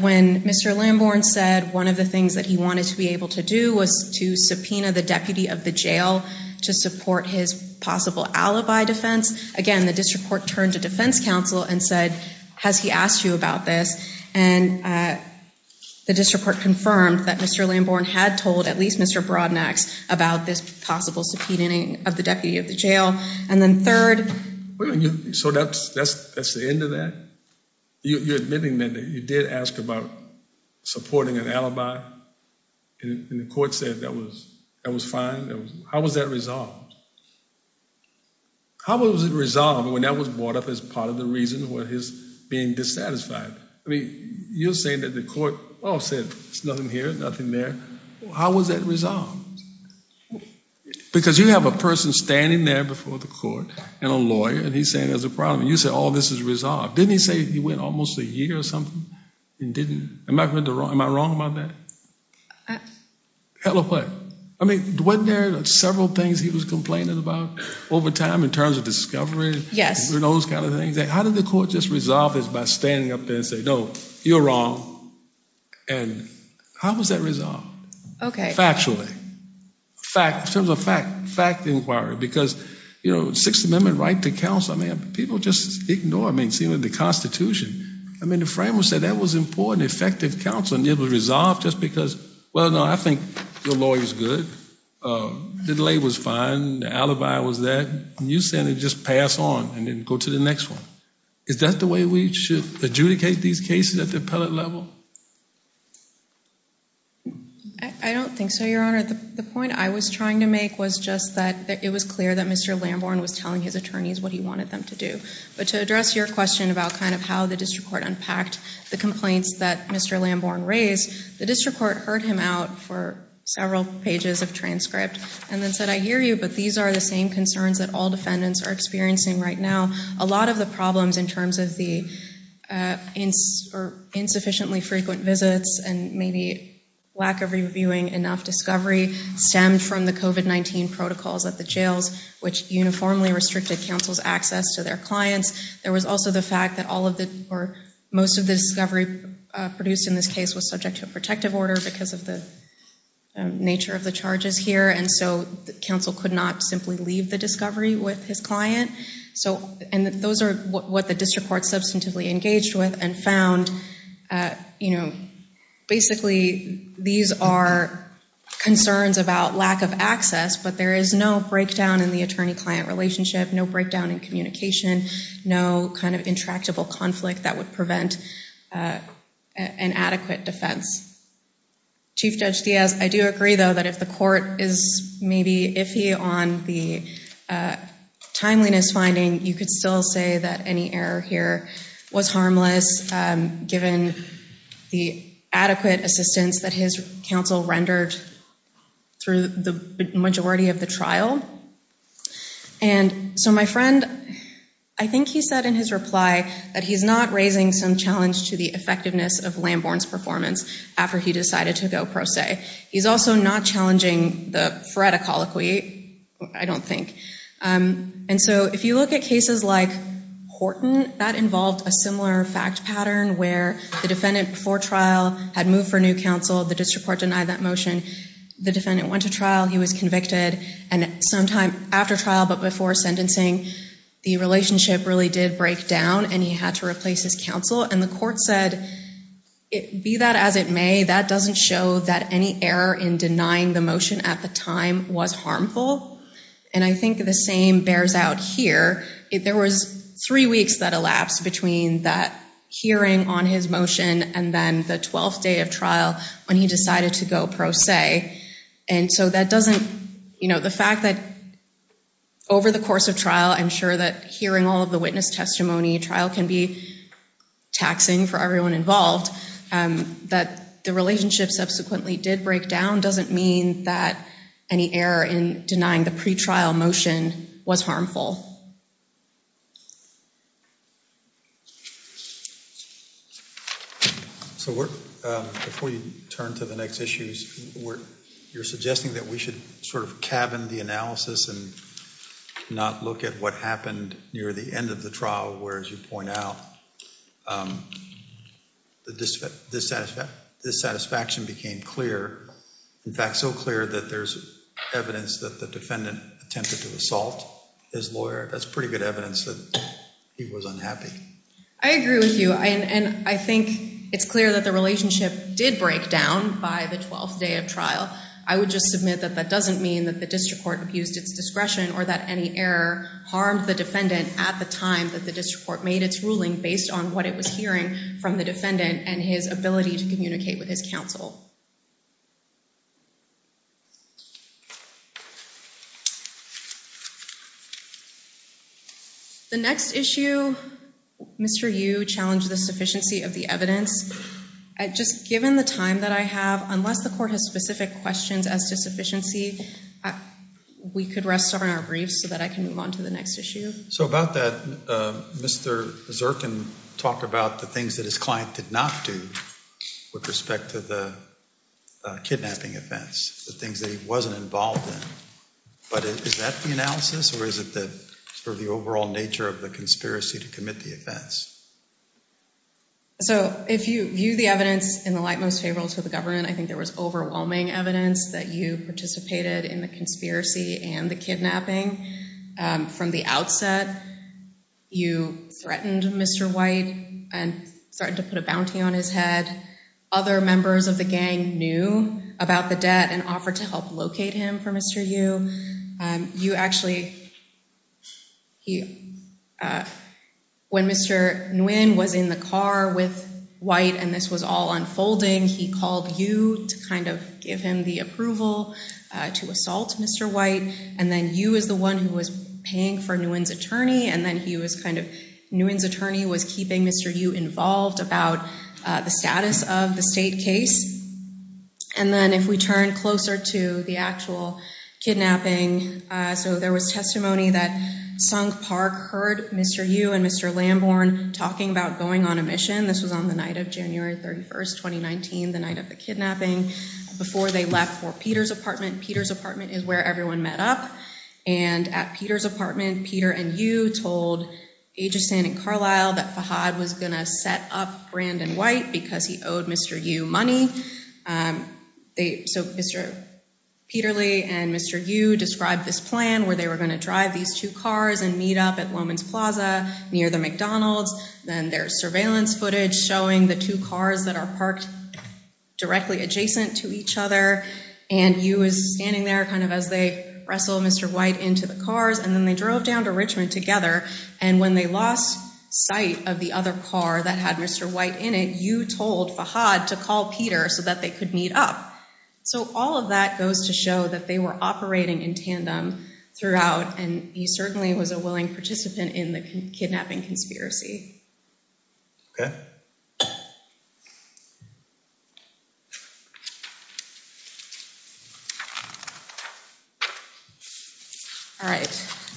when Mr. Lamborn said one of the things that he wanted to be able to do was to subpoena the deputy of the jail to support his possible alibi defense, again, the district court turned to defense counsel and said, has he asked you about this? And the district court confirmed that Mr. Lamborn had told at least Mr. Brodnag about this possible subpoenaing of the deputy of the jail. And then third... So that's the end of that? You're admitting that you did ask about supporting an alibi, and the court said that was fine? How was that resolved? How was it resolved when that was brought up as part of the reason for his being dissatisfied? I mean, you're saying that the court all said there's nothing here, nothing there. How was that resolved? Because you have a person standing there before the court and a lawyer, and he's saying there's a problem. You said all this is resolved. Didn't he say he went almost a year or something and didn't... Am I wrong about that? Hell of a lot. I mean, weren't there several things he was complaining about over time in terms of discovery? Yes. Those kind of things. How did the court just resolve this by standing up there and saying, no, you're wrong? And how was that resolved? Okay. Factually. Fact. It was a fact inquiry, because, you know, Sixth Amendment right to counsel, I mean, people just ignore it. I mean, it's even in the Constitution. I mean, the framers said that was important, effective counsel, and it was resolved just because, well, no, I think the lawyer's good. The delay was fine. The alibi was that. And you're saying they just pass on and then go to the next one. Is that the way we should adjudicate these cases at the appellate level? I don't think so, Your Honor. The point I was trying to make was just that it was clear that Mr. Lamborn was telling his attorneys what he wanted them to do. But to address your question about kind of how the district court unpacked the complaints that Mr. Lamborn raised, the district court heard him out for several pages of transcripts and then said, I hear you, but these are the same concerns that all defendants are experiencing right now. A lot of the problems in terms of the insufficiently frequent visits and maybe lack of reviewing enough discovery stemmed from the COVID-19 protocols at the jails, which uniformly restricted counsel's access to their clients. There was also the fact that most of the discovery produced in this case was subject to a protective order because of the nature of the charges here. And so counsel could not simply leave the discovery with his client. And those are what the district court substantively engaged with and found. Basically, these are concerns about lack of access, but there is no breakdown in the attorney-client relationship, no breakdown in communication, no kind of intractable conflict that would prevent an adequate defense. Chief Judge Fievre, I do agree, though, that if the court is maybe iffy on the timeliness finding, you could still say that any error here was harmless given the adequate assistance that his counsel rendered through the majority of the trial. And so my friend, I think he said in his reply that he's not raising some challenge to the effectiveness of Lamborn's performance after he decided to go pro se. He's also not challenging the threat of colloquy, I don't think. And so if you look at cases like Horton, that involved a similar fact pattern where the defendant before trial had moved for new counsel, the district court denied that motion, the defendant went to trial, he was convicted, and sometime after trial but before sentencing, the relationship really did break down and he had to replace his counsel. And the court said, be that as it may, that doesn't show that any error in denying the motion at the time was harmful. And I think the same bears out here. There was three weeks that elapsed between that hearing on his motion and then the 12th day of trial when he decided to go pro se. And so that doesn't, you know, the fact that over the course of trial, I'm sure that hearing all of the witness testimony, trial can be taxing for everyone involved, that the relationship subsequently did break down doesn't mean that any error in denying the pretrial motion was harmful. So before you turn to the next issues, you're suggesting that we should sort of cabin the analysis and not look at what happened near the end of the trial where, as you point out, the dissatisfaction became clear. In fact, so clear that there's evidence that the defendant attempted to assault his lawyer that's pretty good evidence that he was unhappy. I agree with you. And I think it's clear that the relationship did break down by the 12th day of trial. I would just submit that that doesn't mean that the district court abused its discretion or that any error harmed the defendant at the time that the district court made its ruling based on what it was hearing from the defendant and his ability to communicate with his counsel. The next issue, Mr. Yu challenged the sufficiency of the evidence. Just given the time that I have, unless the court has specific questions as to sufficiency, we could rest on our briefs so that I can move on to the next issue. So about that, Mr. Zirkin talked about the things that his client could not do with respect to the kidnapping offense, the things that he wasn't involved in. But is that the analysis or is it the sort of the overall nature of the conspiracy to commit the offense? So if you view the evidence in the light most favorable to the government, I think there was overwhelming evidence that you participated in the conspiracy and the kidnapping. From the outset, you threatened Mr. White and started to put a bounty on his head. Other members of the gang knew about the debt and offered to help locate him for Mr. Yu. You actually, when Mr. Nguyen was in the car with White and this was all unfolding, he called Yu to kind of give him the approval to assault Mr. White. And then Yu was the one who was paying for Nguyen's attorney and then he was kind of, Nguyen's attorney was keeping Mr. Yu involved about the status of the state case. And then if we turn closer to the actual kidnapping, so there was testimony that Song Park heard Mr. Yu and Mr. Lamborn talking about going on a mission. This was on the night of January 31st, 2019, the night of the kidnapping. Before they left for Peter's apartment, Peter's apartment is where everyone met up. And at Peter's apartment, Peter and Yu told Ageson and Carlisle that Fahad was going to set up Brandon White because he owed Mr. Yu money. So Mr. Peterly and Mr. Yu described this plan where they were going to drive these two cars and meet up at Women's Plaza near the McDonald's. Then there's surveillance footage showing the two cars that are parked directly adjacent to each other and Yu is standing there kind of as they wrestle Mr. White into the cars and then they drove down to Richmond together and when they lost sight of the other car that had Mr. White in it, Yu told Fahad to call Peter so that they could meet up. So all of that goes to show that they were operating in tandem throughout and Yu certainly was a willing participant in the kidnapping conspiracy.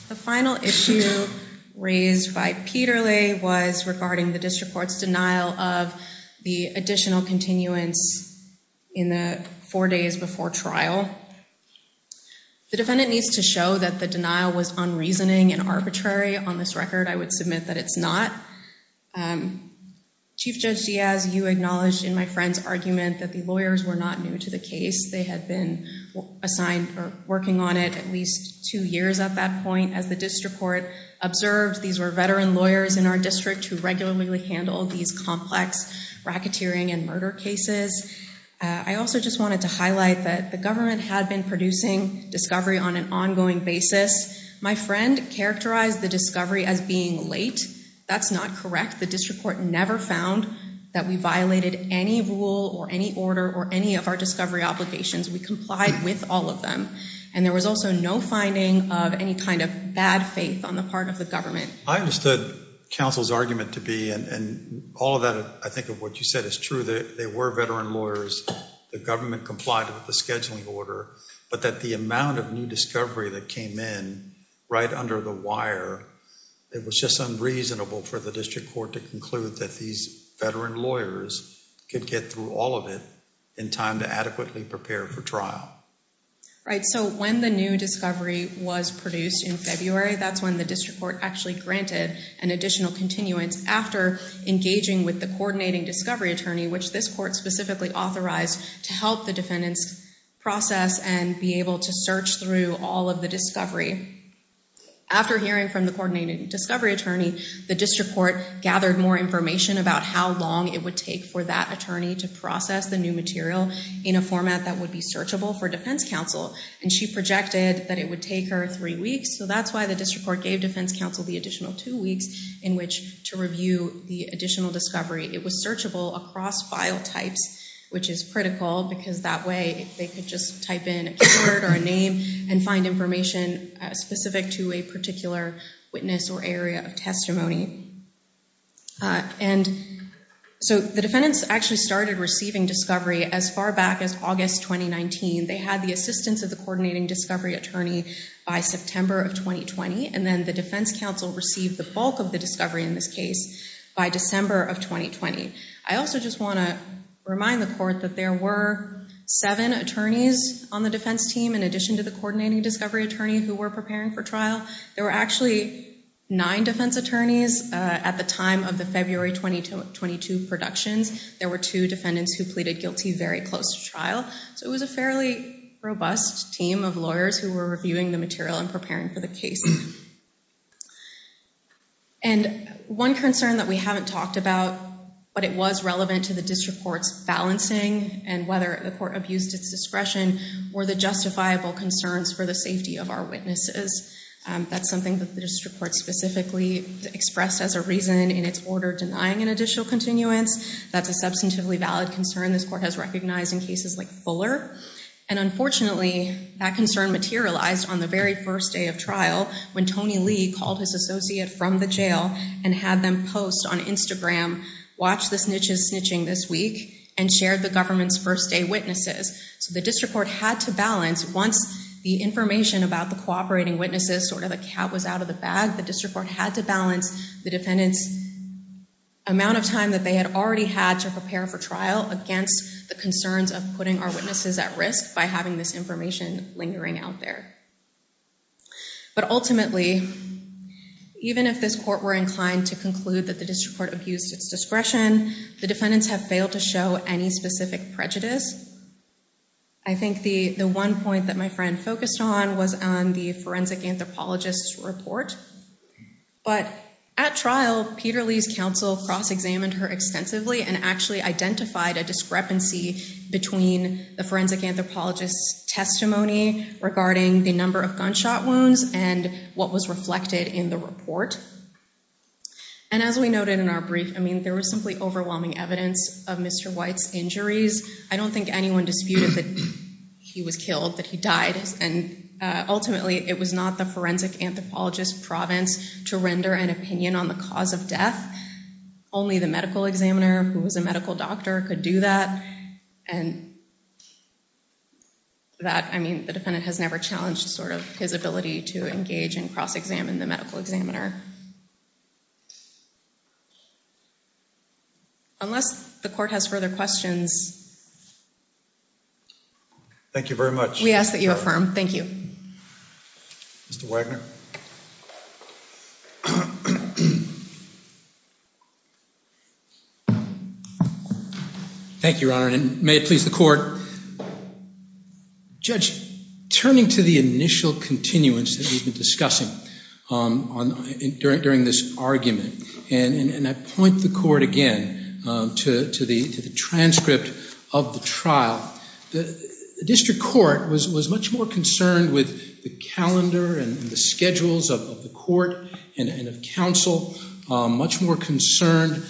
The final issue raised by Peterly was regarding the district court's denial of the additional continuance in the four days before trial. The defendant needs to show that the denial was unreasoning and arbitrary. On this record, I would submit that it's not. Chief Judge Diaz, you acknowledged in my friend's argument that the lawyers were not new to the case. They had been assigned for working on it at least two years at that point. As the district court observed, these were veteran lawyers in our district who regularly handled these complex racketeering and murder cases. I also just wanted to highlight that the government had been producing discovery on an ongoing basis. My friend characterized the discovery as being late. That's not correct. The district court never found that we violated any rule or any order or any of our discovery obligations. We complied with all of them and there was also no finding of any kind of bad faith on the part of the government. I understood counsel's argument to be and all of that, I think of what you said, it's true that they were veteran lawyers. The government complied with the scheduling order but that the amount of new discovery that came in right under the wire, it was just unreasonable for the district court to conclude that these veteran lawyers could get through all of it in time to adequately prepare for trial. Right, so when the new discovery was produced in February, that's when the district court actually granted an additional continuance after engaging with the coordinating discovery attorney which this court specifically authorized to help the defendants process and be able to search through all of the discovery. After hearing from the coordinating discovery attorney, the district court gathered more information about how long it would take for that attorney to process the new material in a format that would be searchable for defense counsel and she projected that it would take her three weeks so that's why the district court gave defense counsel the additional two weeks in which to review the additional discovery. It was searchable across file types which is critical because that way they could just type in a word or a name and find information specific to a particular witness or area of testimony. So the defendants actually started receiving discovery as far back as August 2019. They had the assistance of the coordinating discovery attorney by September of 2020 and then the defense counsel received the bulk of the discovery in this case by December of 2020. I also just want to remind the court that there were seven attorneys on the defense team in addition to the coordinating discovery attorney who were preparing for trial. There were actually nine defense attorneys at the time of the February 2022 production. There were two defendants who pleaded guilty very close to trial. So it was a fairly robust team of lawyers who were reviewing the material and preparing for the case. And one concern that we haven't talked about but it was relevant to the district court's balancing and whether the court abused its discretion were the justifiable concerns for the safety of our witnesses. That's something that the district court specifically expressed as a reason in its order denying an additional continuance that the substantively valid concern this court has recognized in cases like Fuller and unfortunately that concern materialized on the very first day of trial when Tony Lee called his associate from the jail and had them post on Instagram watch the snitches snitching this week and share the government's first day witnesses. The district court had to balance once the information about the cooperating witnesses sort of the cap was out of the bag the district court had to balance the defendant's amount of time that they had already had to prepare for trial against the concerns of putting our witnesses at risk by having this information lingering out there. But ultimately even if this court were inclined to conclude that the district court abused its discretion the defendants have failed to show any specific prejudice. I think the one point that my friend focused on was on the forensic anthropologist's report but at trial Peter Lee's counsel cross-examined her extensively and actually identified a discrepancy between the forensic anthropologist's testimony regarding the number of gunshot wounds and what was reflected in the report. And as we noted in our brief I mean there was simply overwhelming evidence of Mr. White's injuries. I don't think anyone disputed that he was killed that he died and ultimately it was not the forensic anthropologist's province to render an opinion on the cause of death and that only the medical examiner who was a medical doctor could do that and that I mean the defendant has never challenged sort of his ability to engage and cross-examine the medical examiner. Unless the court has further questions. Thank you very much. We ask that you affirm. Thank you. Mr. Wagner. Thank you, Your Honor. And may it please the court. Judge, turning to the initial continuance that you've been discussing during this argument and I point the court again to the transcript of the trial. The district court was much more concerned with the calendar and the schedules of the court and of counsel, much more concerned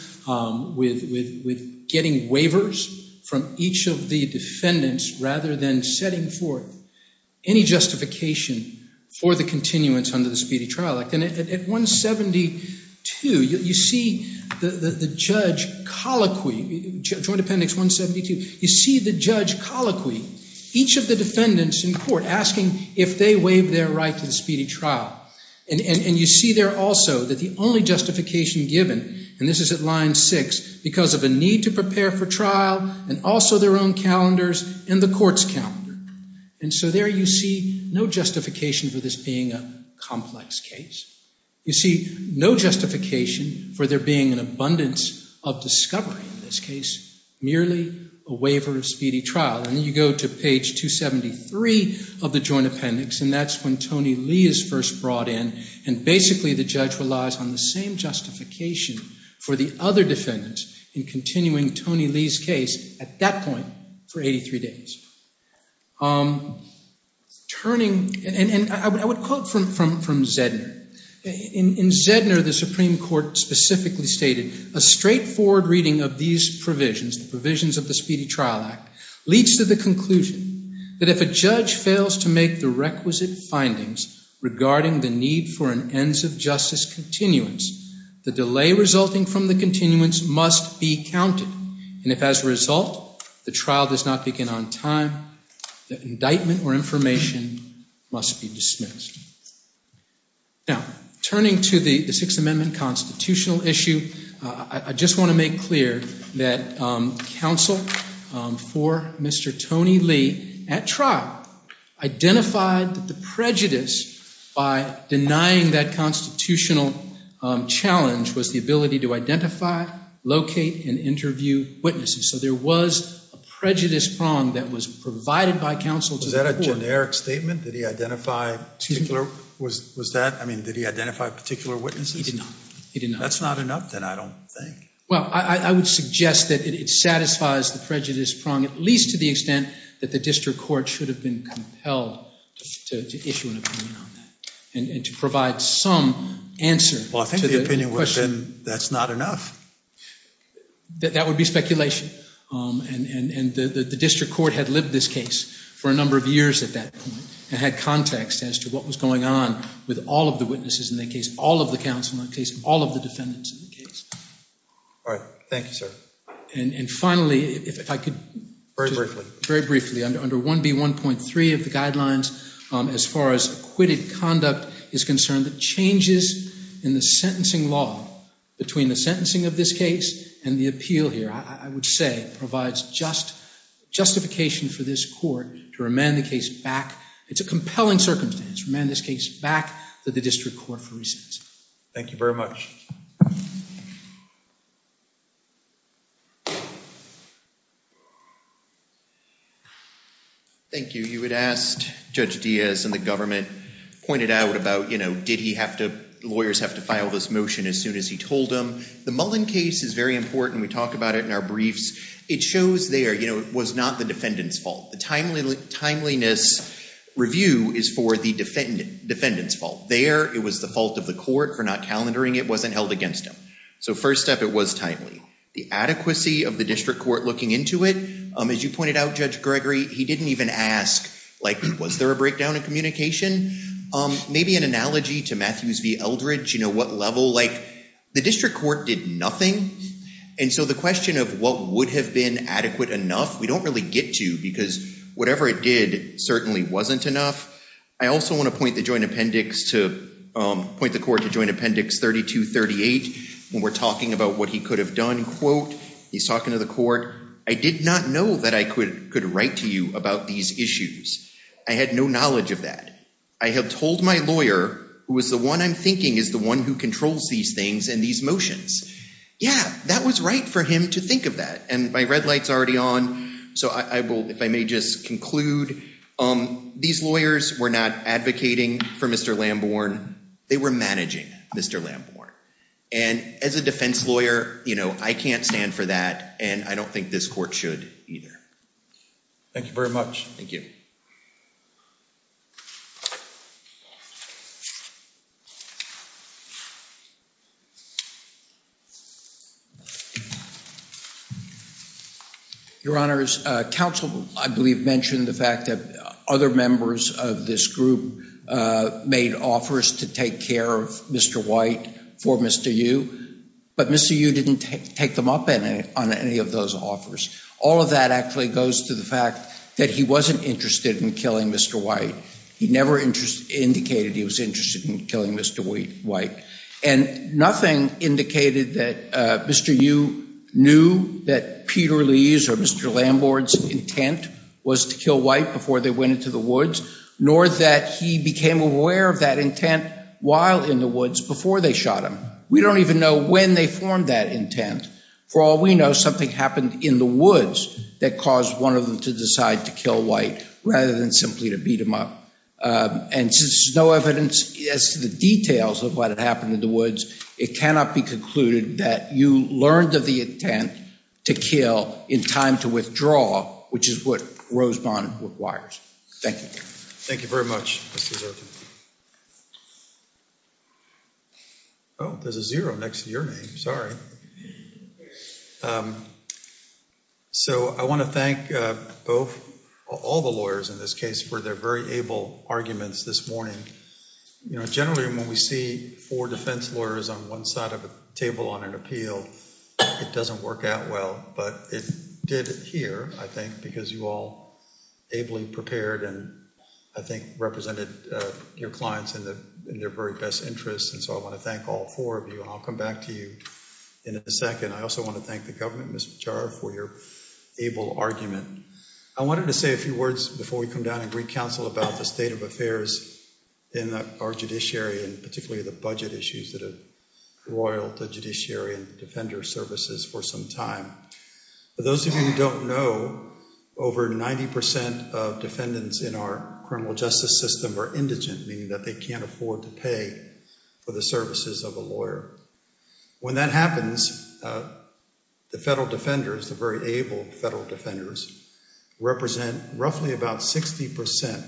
with getting waivers from each of the defendants rather than setting forth any justification for the continuance under the Speedy Trial Act and at 172, you see the judge colloquy, Trial Defendant 172, you see the judge colloquy each of the defendants in court asking if they waive their right to the Speedy Trial and you see there also that the only justification given and this is at line six, because of the need to prepare for trial and also their own calendars and the court's calendar. And so there you see no justification for this being a complex case. You see no justification for there being an abundance of discovery in this case, merely a waiver of Speedy Trial and you go to page 273 of the Joint Appendix and that's when Tony Lee is first brought in and basically the judge relies on the same justification for the other defendants in continuing Tony Lee's case at that point for 83 days. Turning, and I would quote from Zedner, in Zedner the Supreme Court specifically stated a straightforward reading of these provisions, the provisions of the Speedy Trial Act leads to the conclusion that if a judge fails to make the requisite findings regarding the need for an ends of justice continuance, the delay resulting from the continuance must be counted and if as a result the trial does not begin on time, the indictment or information must be dismissed. Turning to the Sixth Amendment constitutional issue, I just want to make clear that counsel for Mr. Tony Lee at trial identified the prejudice by denying that constitutional challenge was the ability to identify, locate and interview witnesses so there was a prejudice prong that was provided by counsel to the court. Was that a generic statement? Did he identify particular, was that, I mean did he identify particular witnesses? He did not. That's not enough then I don't think. Well, I would suggest that it satisfies the prejudice prong at least to the extent that the district court should have been compelled to issue an opinion on that and to provide some answer to the question. Well, I think the opinion would have been that's not enough. That would be speculation and the district court had lived this case for a number of years at that point and had context as to what was going on with all of the witnesses in the case, all of the counsel in the case, all of the defendants in the case. All right, thank you sir. And finally, if I could. Very briefly. Under 1B.1.3 of the guidelines as far as acquitted conduct is concerned, the changes in the sentencing law between the sentencing of this case and the appeal here, I would say provides justification for this court to remand the case back. It's a compelling circumstance to remand this case back to the district court for recess. Thank you very much. Thank you. You had asked Judge Diaz and the government pointed out about lawyers have to file this motion as soon as he told them. The Mullen case is very important. We talk about it in our briefs. It shows there it was not the defendant's fault. The timeliness review is for the defendant's fault. There, it was the fault of the court for not calendaring it, wasn't held against him. So first step, it was timely. The adequacy of the district court looking into it, as you pointed out, Judge Gregory, he didn't even ask was there a breakdown in communication? Maybe an analogy to Matthews v. Eldredge, what level? The district court did nothing. And so the question of what would have been adequate enough, we don't really get to because whatever it did certainly wasn't enough. I also want to point the court to Joint Appendix 3238 when we're talking about what he could have done. He's talking to the court. I did not know that I could write to you about these issues. I had no knowledge of that. I have told my lawyer, who is the one I'm thinking is the one who controls these things and these motions. Yeah, that was right for him to think of that. And my red light's already on. So if I may just conclude, these lawyers were not advocating for Mr. Lamborn. They were managing Mr. Lamborn. And as a defense lawyer, I can't stand for that. And I don't think this court should either. Thank you very much. Thank you. Your Honors, counsel, I believe, mentioned the fact that other members of this group made offers to take care of Mr. White for Mr. Yu. But Mr. Yu didn't take them up on any of those offers. All of that actually goes to the fact that he wasn't interested in killing Mr. White. He never indicated he was interested in killing Mr. White. And nothing indicated that Mr. Yu knew that Peter Lee's or Mr. Lamborn's intent was to kill White before they went into the woods, nor that he became aware of that intent while in the woods before they shot him. We don't even know when they formed that intent. For all we know, something happened in the woods that caused one of them to decide to kill White rather than simply to beat him up. And since there's no evidence as to the details of what had happened in the woods, it cannot be concluded that you learned of the intent to kill in time to withdraw, which is what Rose Bond requires. Thank you. Thank you very much. There's a zero next to your name, sorry. So I want to thank all the lawyers in this case for their very able arguments this morning. You know, generally when we see four defense lawyers on one side of the table on an appeal, it doesn't work out well. But it did here, I think, because you all ably prepared and, I think, represented your clients in their very best interest. And so I want to thank all four of you. I'll come back to you in a second. I also want to thank the government, Mrs. Jarrell, for your able argument. I wanted to say a few words before we come down and read counsel about the state of affairs in our judiciary, and particularly the budget issues that have roiled the judiciary and defender services for some time. For those of you who don't know, over 90% of defendants in our criminal justice system are indigent, meaning that they can't afford to pay for the services of a lawyer. When that happens, the federal defenders, the very able federal defenders, represent roughly about 60%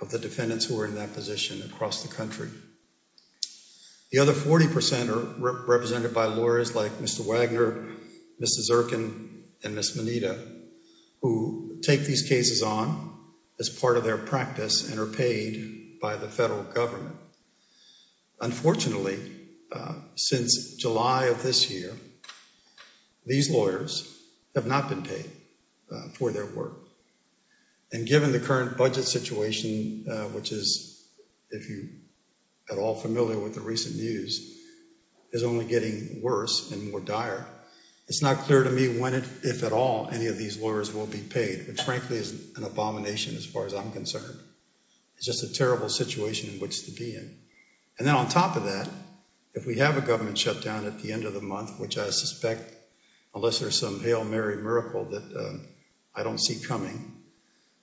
of the defendants who are in that position across the country. The other 40% are represented by lawyers like Mr. Wagner, Mrs. Erkin, and Ms. Moneta, who take these cases on as part of their practice and are paid by the federal government. Unfortunately, since July of this year, these lawyers have not been paid for their work. And given the current budget situation, which is, if you are all familiar with the recent news, is only getting worse and more dire, it's not clear to me when, if at all, any of these lawyers will be paid, which frankly is an abomination as far as I'm concerned. It's just a terrible situation in which to be in. And on top of that, if we have a government shutdown at the end of the month, which I suspect, unless there's some Hail Mary miracle that I don't see coming,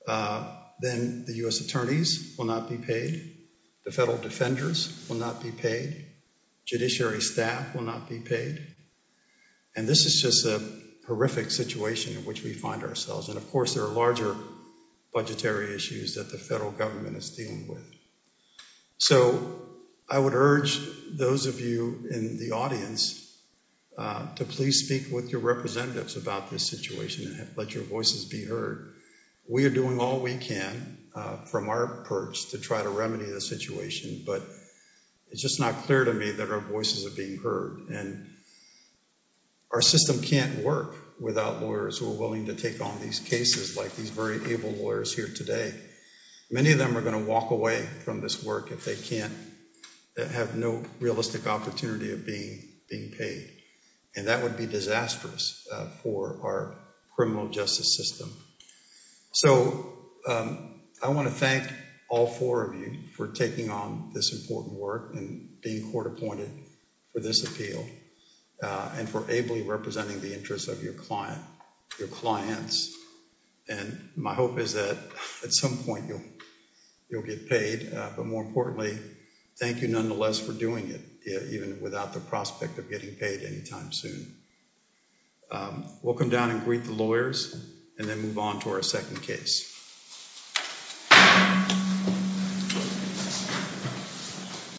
then the US attorneys will not be paid. The federal defenders will not be paid. Judiciary staff will not be paid. And this is just a horrific situation in which we find ourselves. And of course, there are larger budgetary issues that the federal government is dealing with. So I would urge those of you in the audience to please speak with your representatives about this situation and let your voices be heard. We are doing all we can from our perch to try to remedy the situation. But it's just not clear to me that our voices are being heard. And our system can't work without lawyers who are willing to take on these cases, like these very able lawyers here today. Many of them are going to walk away from this work if they can't, that have no realistic opportunity of being paid. And that would be disastrous for our criminal justice system. So I want to thank all four of you for taking on this important work and being court appointed for this appeal and for ably representing the interests of your clients. And my hope is that at some point, you'll get paid. But more importantly, thank you, nonetheless, for doing it, even without the prospect of getting paid any time soon. We'll come down and greet the lawyers and then move on to our second case.